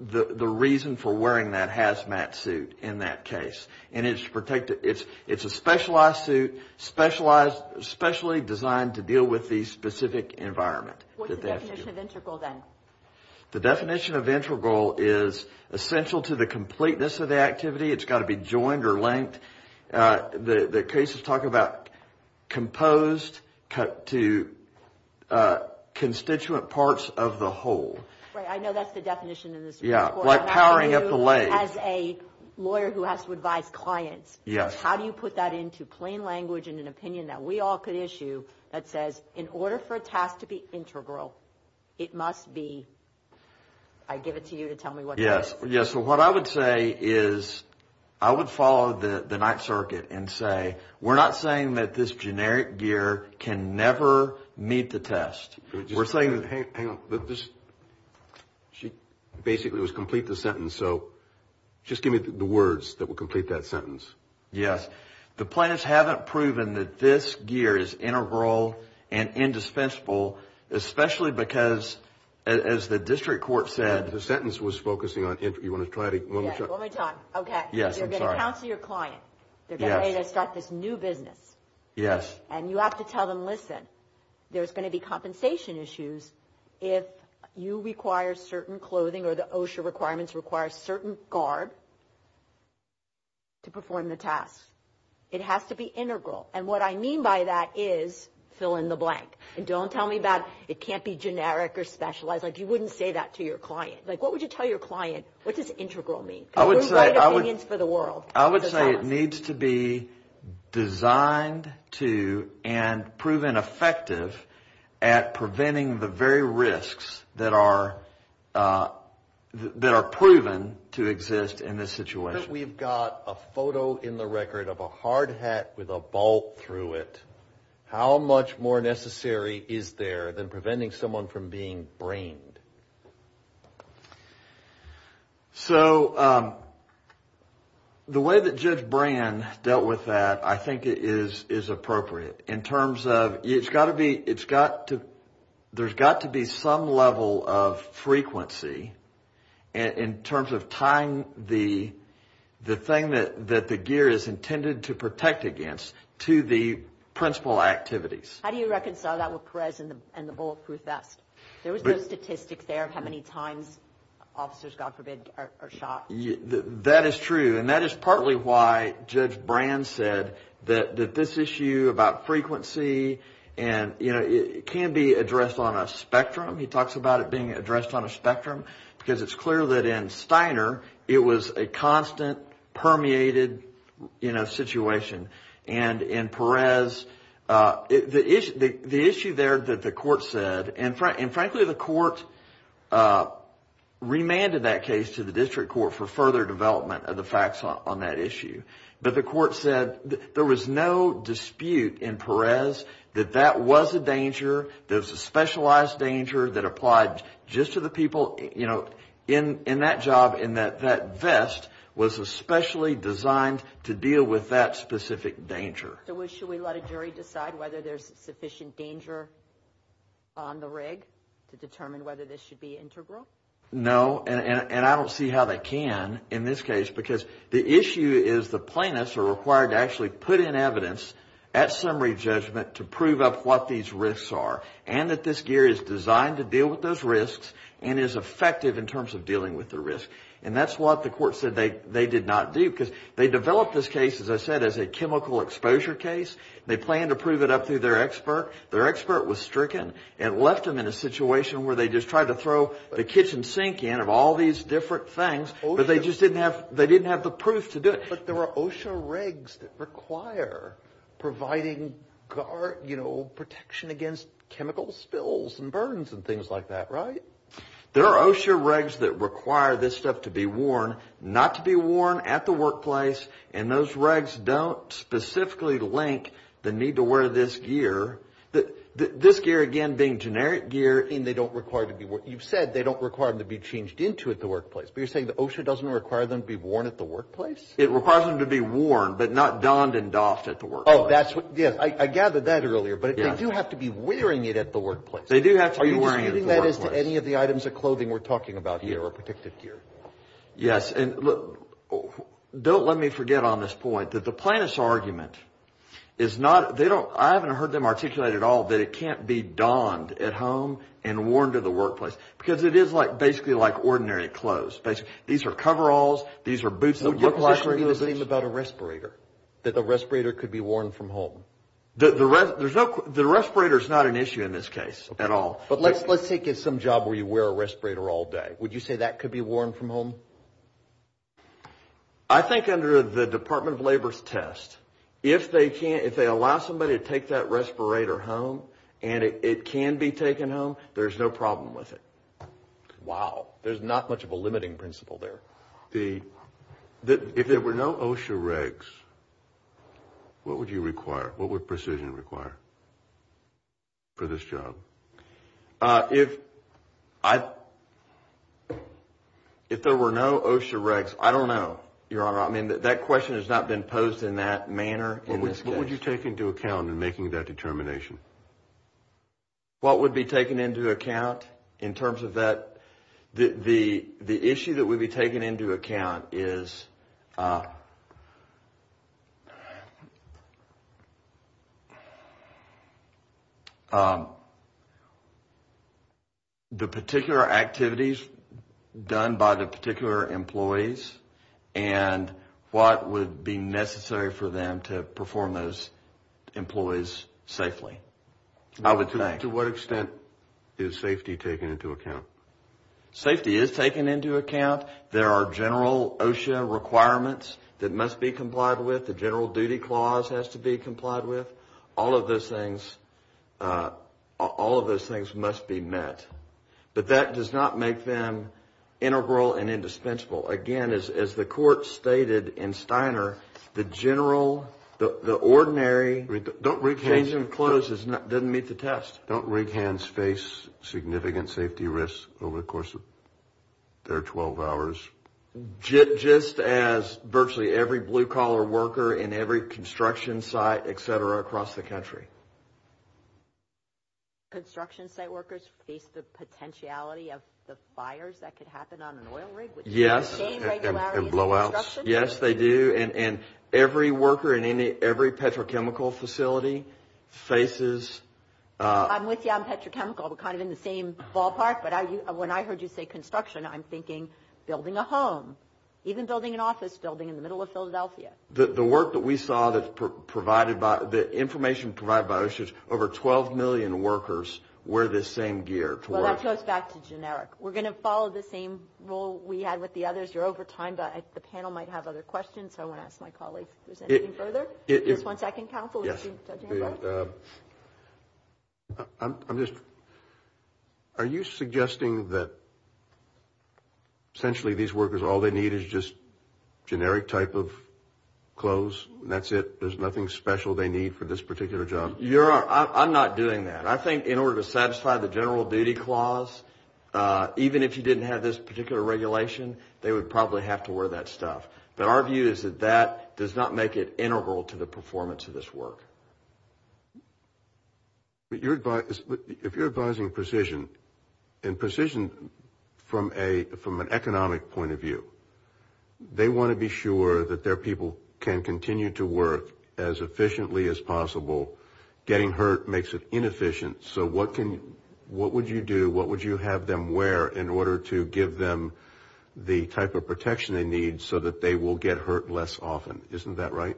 the reason for wearing that hazmat suit in that case. It's a specialized suit, specially designed to deal with the specific environment. What's the definition of integral then? The definition of integral is essential to the completeness of the activity. It's got to be joined or linked. The cases talk about composed to constituent parts of the whole. Right, I know that's the definition in this report. Yeah, like powering up the legs. As a lawyer who has to advise clients, how do you put that into plain language in an opinion that we all could issue that says, in order for a task to be integral, it must be, I give it to you to tell me what it is. Yeah, so what I would say is I would follow the Ninth Circuit and say, we're not saying that this generic gear can never meet the test. We're saying that, hang on, she basically was complete the sentence, so just give me the words that would complete that sentence. Yes, the plaintiffs haven't proven that this gear is integral and indispensable, especially because, as the district court said. The sentence was focusing on, you want to try to. One more time, okay. Yes, I'm sorry. You're going to counsel your client. They're going to start this new business. Yes. And you have to tell them, listen, there's going to be compensation issues if you require certain clothing or the OSHA requirements require a certain guard to perform the task. It has to be integral. And what I mean by that is, fill in the blank. And don't tell me about, it can't be generic or specialized. Like, you wouldn't say that to your client. Like, what would you tell your client, what does integral mean? I would say it needs to be designed to and proven effective at preventing the very risks that are proven to exist in this situation. We've got a photo in the record of a hard hat with a bolt through it. How much more necessary is there than preventing someone from being brained? So, the way that Judge Brand dealt with that, I think it is appropriate. In terms of, it's got to be, it's got to, there's got to be some level of frequency in terms of tying the thing that the gear is intended to protect against to the principal activities. How do you reconcile that with Perez and the bulletproof vest? There was no statistics there of how many times officers, God forbid, are shot. That is true. And that is partly why Judge Brand said that this issue about frequency, and it can be addressed on a spectrum. He talks about it being addressed on a spectrum. Because it's clear that in Steiner, it was a constant, permeated situation. And in Perez, the issue there that the court said, and frankly the court remanded that case to the district court for further development of the facts on that issue. But the court said there was no dispute in Perez that that was a danger, that it was a specialized danger that applied just to the people in that job, and that that vest was especially designed to deal with that specific danger. So should we let a jury decide whether there's sufficient danger on the rig to determine whether this should be integral? No, and I don't see how they can in this case, because the issue is the plaintiffs are required to actually put in evidence at summary judgment to prove up what these risks are, and that this gear is designed to deal with those risks and is effective in terms of dealing with the risk. And that's what the court said they did not do, because they developed this case, as I said, as a chemical exposure case. They planned to prove it up through their expert. Their expert was stricken and left them in a situation where they just tried to throw the kitchen sink in of all these different things, but they just didn't have the proof to do it. But there were OSHA regs that require providing protection against chemical spills and burns and things like that, right? There are OSHA regs that require this stuff to be worn, not to be worn at the workplace, and those regs don't specifically link the need to wear this gear. This gear, again, being generic gear. You've said they don't require them to be changed into at the workplace, but you're saying the OSHA doesn't require them to be worn at the workplace? It requires them to be worn, but not donned and doffed at the workplace. I gathered that earlier, but they do have to be wearing it at the workplace. They do have to be wearing it at the workplace. Are you disputing that as to any of the items of clothing we're talking about here or protective gear? Yes. And don't let me forget on this point that the plaintiff's argument is not – I haven't heard them articulate at all that it can't be donned at home and worn to the workplace, because it is basically like ordinary clothes. These are coveralls. These are boots. Would your position be the same about a respirator, that the respirator could be worn from home? The respirator is not an issue in this case at all. But let's take some job where you wear a respirator all day. Would you say that could be worn from home? I think under the Department of Labor's test, if they allow somebody to take that respirator home and it can be taken home, there's no problem with it. Wow. There's not much of a limiting principle there. If there were no OSHA regs, what would you require? What would precision require for this job? If there were no OSHA regs, I don't know, Your Honor. I mean, that question has not been posed in that manner in this case. What would you take into account in making that determination? What would be taken into account in terms of that? The issue that would be taken into account is the particular activities done by the particular employees and what would be necessary for them to perform those employees safely. To what extent is safety taken into account? Safety is taken into account. There are general OSHA requirements that must be complied with. The general duty clause has to be complied with. All of those things must be met. But that does not make them integral and indispensable. Again, as the Court stated in Steiner, the ordinary change of clothes doesn't meet the test. Don't rig hands face significant safety risks over the course of their 12 hours? Just as virtually every blue-collar worker in every construction site, et cetera, across the country. Construction site workers face the potentiality of the fires that could happen on an oil rig? Yes, and blowouts. Yes, they do. And every worker in every petrochemical facility faces… I'm with you on petrochemical. We're kind of in the same ballpark. But when I heard you say construction, I'm thinking building a home, even building an office building in the middle of Philadelphia. The information provided by OSHA is over 12 million workers wear the same gear to work. Well, that goes back to generic. We're going to follow the same rule we had with the others. You're over time, but the panel might have other questions, so I want to ask my colleagues if there's anything further. Just one second, counsel. Yes. I'm just – are you suggesting that essentially these workers, all they need is just generic type of clothes and that's it? There's nothing special they need for this particular job? You're – I'm not doing that. I think in order to satisfy the general duty clause, even if you didn't have this particular regulation, they would probably have to wear that stuff. But our view is that that does not make it integral to the performance of this work. If you're advising precision, and precision from an economic point of view, they want to be sure that their people can continue to work as efficiently as possible. Getting hurt makes it inefficient. So what can – what would you do? What would you have them wear in order to give them the type of protection they need so that they will get hurt less often? Isn't that right?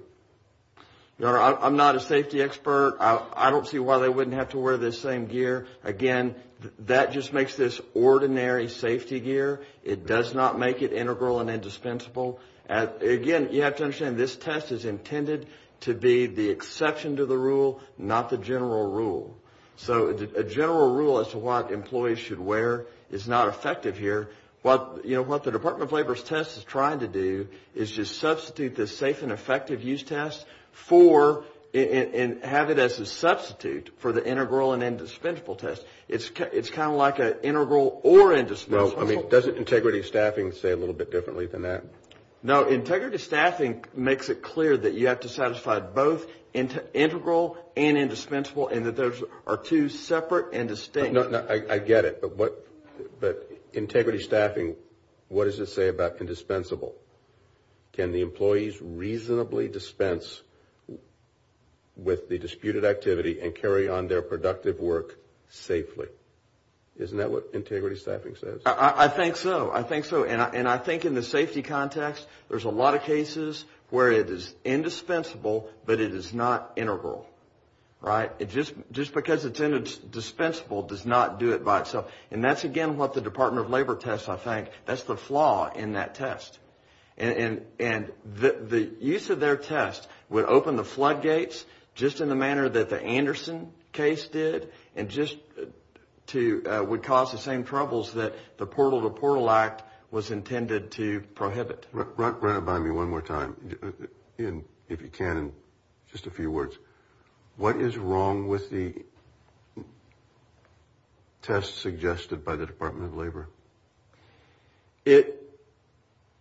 Your Honor, I'm not a safety expert. I don't see why they wouldn't have to wear this same gear. Again, that just makes this ordinary safety gear. It does not make it integral and indispensable. Again, you have to understand, this test is intended to be the exception to the rule, not the general rule. So a general rule as to what employees should wear is not effective here. What the Department of Labor's test is trying to do is just substitute this safe and effective use test for – and have it as a substitute for the integral and indispensable test. It's kind of like an integral or indispensable. Well, I mean, doesn't integrity staffing say a little bit differently than that? No. Integrity staffing makes it clear that you have to satisfy both integral and indispensable and that those are two separate and distinct. I get it. But integrity staffing, what does it say about indispensable? Can the employees reasonably dispense with the disputed activity and carry on their productive work safely? Isn't that what integrity staffing says? I think so. I think so. In that context, there's a lot of cases where it is indispensable, but it is not integral, right? Just because it's indispensable does not do it by itself. And that's, again, what the Department of Labor tests, I think. That's the flaw in that test. And the use of their test would open the floodgates just in the manner that the Anderson case did and just would cause the same troubles that the Portal to Portal Act was intended to prohibit. Run it by me one more time, if you can, in just a few words. What is wrong with the test suggested by the Department of Labor?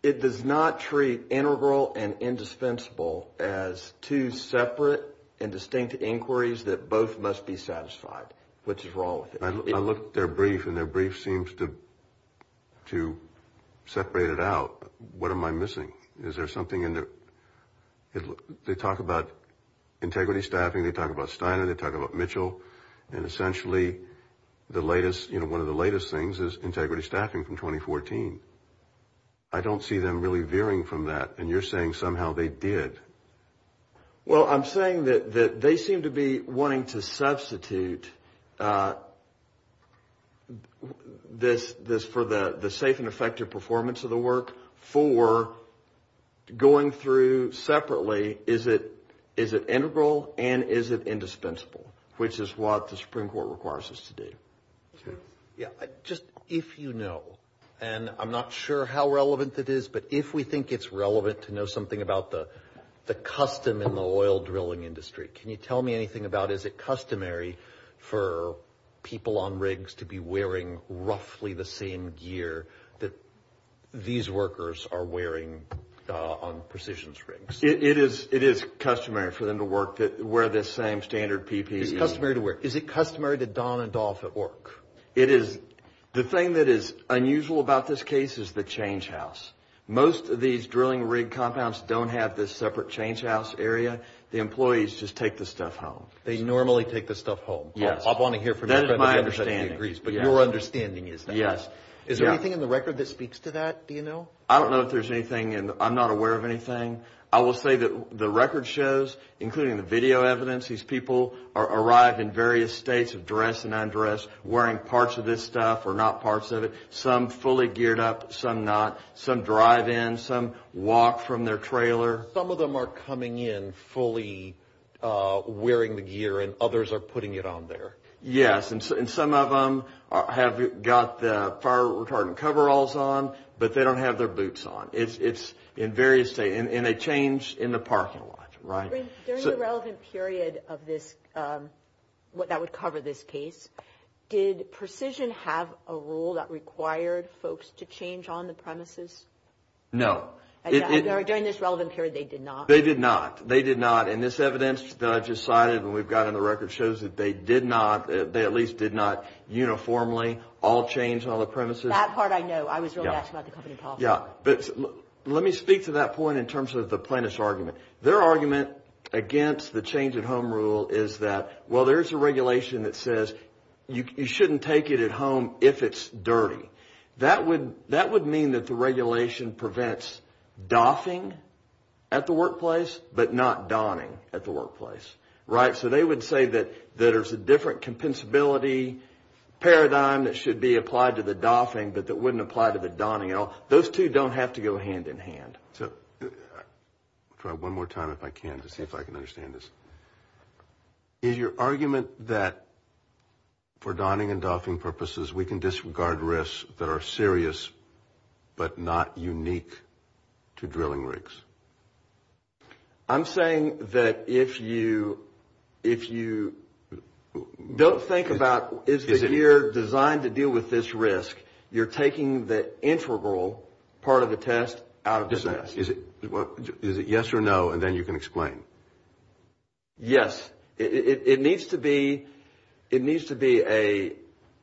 It does not treat integral and indispensable as two separate and distinct inquiries that both must be satisfied, which is wrong. I looked at their brief, and their brief seems to separate it out. What am I missing? Is there something in there? They talk about integrity staffing. They talk about Steiner. They talk about Mitchell. And essentially, one of the latest things is integrity staffing from 2014. I don't see them really veering from that. And you're saying somehow they did. Well, I'm saying that they seem to be wanting to substitute this for the safe and effective performance of the work for going through separately, is it integral and is it indispensable, which is what the Supreme Court requires us to do. Just if you know, and I'm not sure how relevant it is, but if we think it's relevant to know something about the custom in the oil drilling industry, can you tell me anything about is it customary for people on rigs to be wearing roughly the same gear that these workers are wearing on precisions rigs? It is customary for them to wear this same standard PPE. It's customary to wear. Is it customary to don a doff at work? It is. The thing that is unusual about this case is the change house. Most of these drilling rig compounds don't have this separate change house area. The employees just take the stuff home. They normally take the stuff home. Yes. That is my understanding. But your understanding is that. Yes. Is there anything in the record that speaks to that, do you know? I don't know if there's anything, and I'm not aware of anything. I will say that the record shows, including the video evidence, these people arrive in various states of dress and undress, wearing parts of this stuff or not parts of it. Some fully geared up, some not. Some drive in. Some walk from their trailer. Some of them are coming in fully wearing the gear, and others are putting it on there. Yes. And some of them have got the fire retardant coveralls on, but they don't have their boots on. It's in various states, and they change in the parking lot, right? During the relevant period of this, that would cover this case, did Precision have a rule that required folks to change on the premises? No. During this relevant period, they did not? They did not. They did not. And this evidence that I just cited and we've got in the record shows that they did not, they at least did not uniformly all change on the premises. That part I know. I was really asking about the company policy. Yes. But let me speak to that point in terms of the plaintiff's argument. Their argument against the change-at-home rule is that, well, there's a regulation that says you shouldn't take it at home if it's dirty. That would mean that the regulation prevents doffing at the workplace but not donning at the workplace, right? So they would say that there's a different compensability paradigm that should be applied to the doffing but that wouldn't apply to the donning at all. Those two don't have to go hand in hand. I'll try one more time if I can to see if I can understand this. Is your argument that for donning and doffing purposes, we can disregard risks that are serious but not unique to drilling rigs? I'm saying that if you don't think about is the gear designed to deal with this risk, you're taking the integral part of the test out of the test. Is it yes or no and then you can explain? Yes. It needs to be a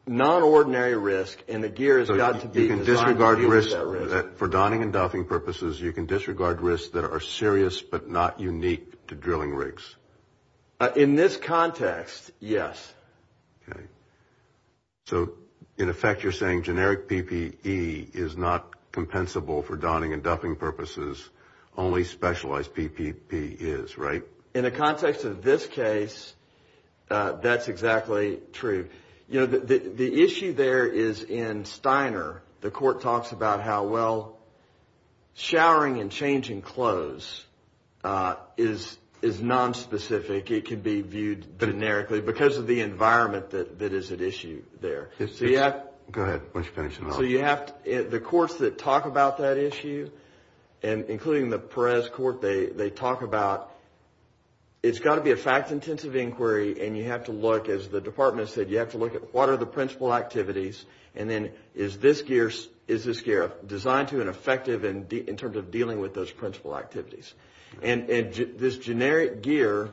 non-ordinary risk and the gear has got to be designed to deal with that risk. So you can disregard risks for donning and doffing purposes, you can disregard risks that are serious but not unique to drilling rigs? In this context, yes. So in effect, you're saying generic PPE is not compensable for donning and doffing purposes, only specialized PPP is, right? In the context of this case, that's exactly true. The issue there is in Steiner, the court talks about how well showering and changing clothes is nonspecific. It can be viewed generically because of the environment that is at issue there. Go ahead, why don't you finish it off. The courts that talk about that issue, including the Perez Court, they talk about it's got to be a fact-intensive inquiry and you have to look, as the department has said, you have to look at what are the principal activities and then is this gear designed to and effective in terms of dealing with those principal activities? And this generic gear,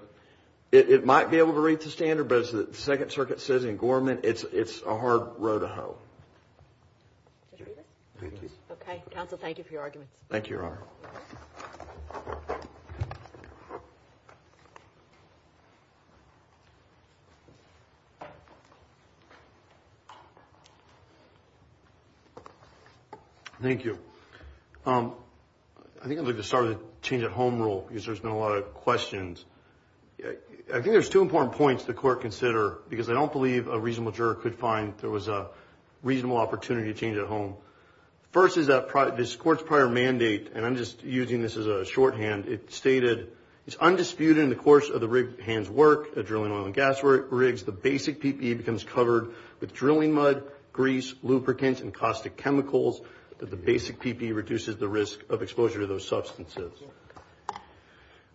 it might be able to reach the standard, but as the Second Circuit says in Gorman, it's a hard row to hoe. Okay, counsel, thank you for your arguments. Thank you, Your Honor. Thank you. I think I'd like to start a change-at-home rule because there's been a lot of questions. I think there's two important points the court consider because I don't believe a reasonable juror could find there was a reasonable opportunity to change at home. First is that this court's prior mandate, and I'm just using this as a shorthand, it stated it's undisputed in the course of the rigged hand's work, drilling oil and gas rigs, the basic PPE becomes covered with drilling mud, grease, lubricants, and caustic chemicals. The basic PPE reduces the risk of exposure to those substances.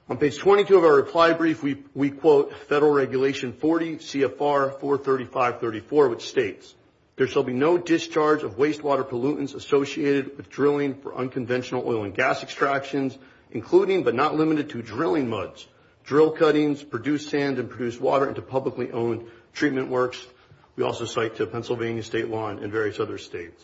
On page 22 of our reply brief, we quote Federal Regulation 40 CFR 43534, which states, there shall be no discharge of wastewater pollutants associated with drilling for unconventional oil and gas extractions, including but not limited to drilling muds, drill cuttings, produced sand, and produced water into publicly owned treatment works. We also cite to Pennsylvania State Law and various other states.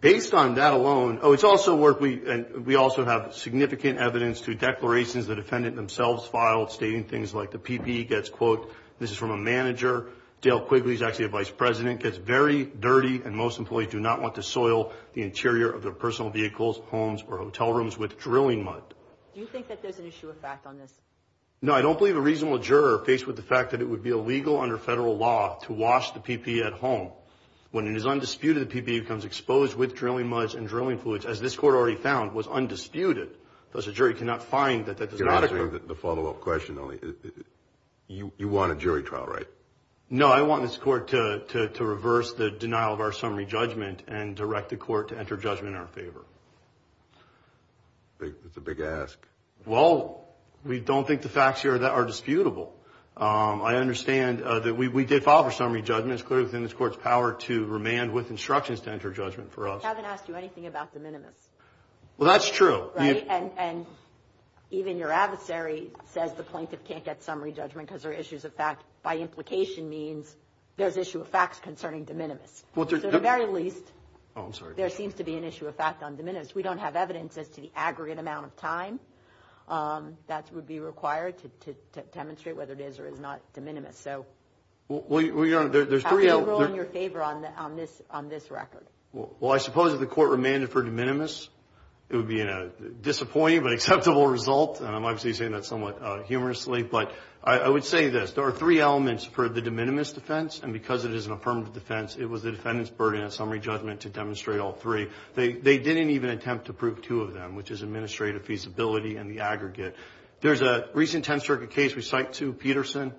Based on that alone, oh, it's also where we also have significant evidence to declarations the defendant themselves filed stating things like the PPE gets, quote, this is from a manager, Dale Quigley is actually a vice president, gets very dirty, and most employees do not want to soil the interior of their personal vehicles, homes, or hotel rooms with drilling mud. Do you think that there's an issue of fact on this? No, I don't believe a reasonable juror faced with the fact that it would be illegal under federal law to wash the PPE at home when it is undisputed the PPE becomes exposed with drilling muds and drilling fluids, as this court already found, was undisputed. Thus, a jury cannot find that that does not occur. You're answering the follow-up question only. You want a jury trial, right? No, I want this court to reverse the denial of our summary judgment and direct the court to enter judgment in our favor. It's a big ask. Well, we don't think the facts here are disputable. I understand that we did file for summary judgment. It's clear within this court's power to remand with instructions to enter judgment for us. We haven't asked you anything about de minimis. Well, that's true. Right? And even your adversary says the plaintiff can't get summary judgment because there are issues of fact by implication means there's issue of facts concerning de minimis. To the very least, there seems to be an issue of fact on de minimis. We don't have evidence as to the aggregate amount of time that would be required to demonstrate whether it is or is not de minimis. So, how do you rule in your favor on this record? Well, I suppose if the court remanded for de minimis, it would be a disappointing but acceptable result, and I'm obviously saying that somewhat humorously. But I would say this. There are three elements for the de minimis defense, and because it is an affirmative defense, it was the defendant's burden of summary judgment to demonstrate all three. They didn't even attempt to prove two of them, which is administrative feasibility and the aggregate. There's a recent Tenth Circuit case we cite to Peterson.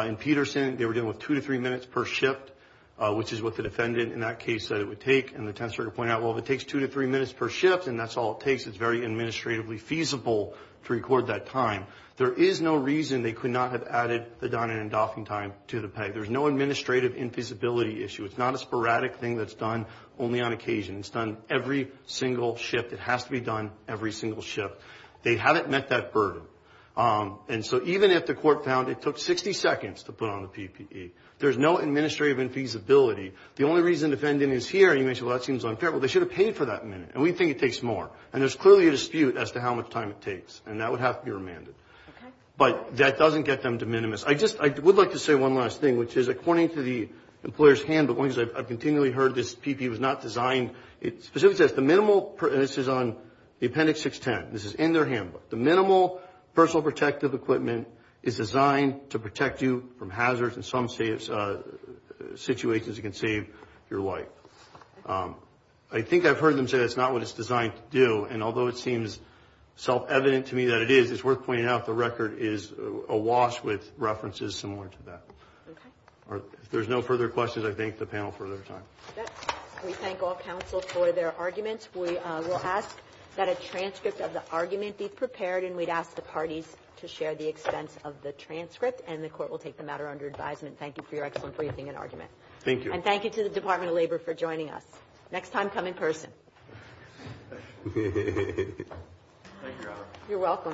In Peterson, they were dealing with two to three minutes per shift, which is what the defendant in that case said it would take. And the Tenth Circuit pointed out, well, if it takes two to three minutes per shift and that's all it takes, it's very administratively feasible to record that time. There is no reason they could not have added the Donning and Doffing time to the peg. There's no administrative infeasibility issue. It's not a sporadic thing that's done only on occasion. It's done every single shift. It has to be done every single shift. They haven't met that burden. And so even if the court found it took 60 seconds to put on the PPE, there's no administrative infeasibility. The only reason the defendant is here, you may say, well, that seems unfair. Well, they should have paid for that minute, and we think it takes more. And there's clearly a dispute as to how much time it takes, and that would have to be remanded. But that doesn't get them to minimis. I just would like to say one last thing, which is according to the employer's handbook, as long as I've continually heard this PPE was not designed, it specifically says the minimal, and this is on the Appendix 610, this is in their handbook, the minimal personal protective equipment is designed to protect you from hazards and some situations it can save your life. I think I've heard them say that's not what it's designed to do, and although it seems self-evident to me that it is, it's worth pointing out the record is awash with references similar to that. If there's no further questions, I thank the panel for their time. We thank all counsel for their arguments. We will ask that a transcript of the argument be prepared, and we'd ask the parties to share the expense of the transcript, and the Court will take the matter under advisement. Thank you for your excellent briefing and argument. Thank you. And thank you to the Department of Labor for joining us. Next time, come in person. Thank you, Your Honor. You're welcome.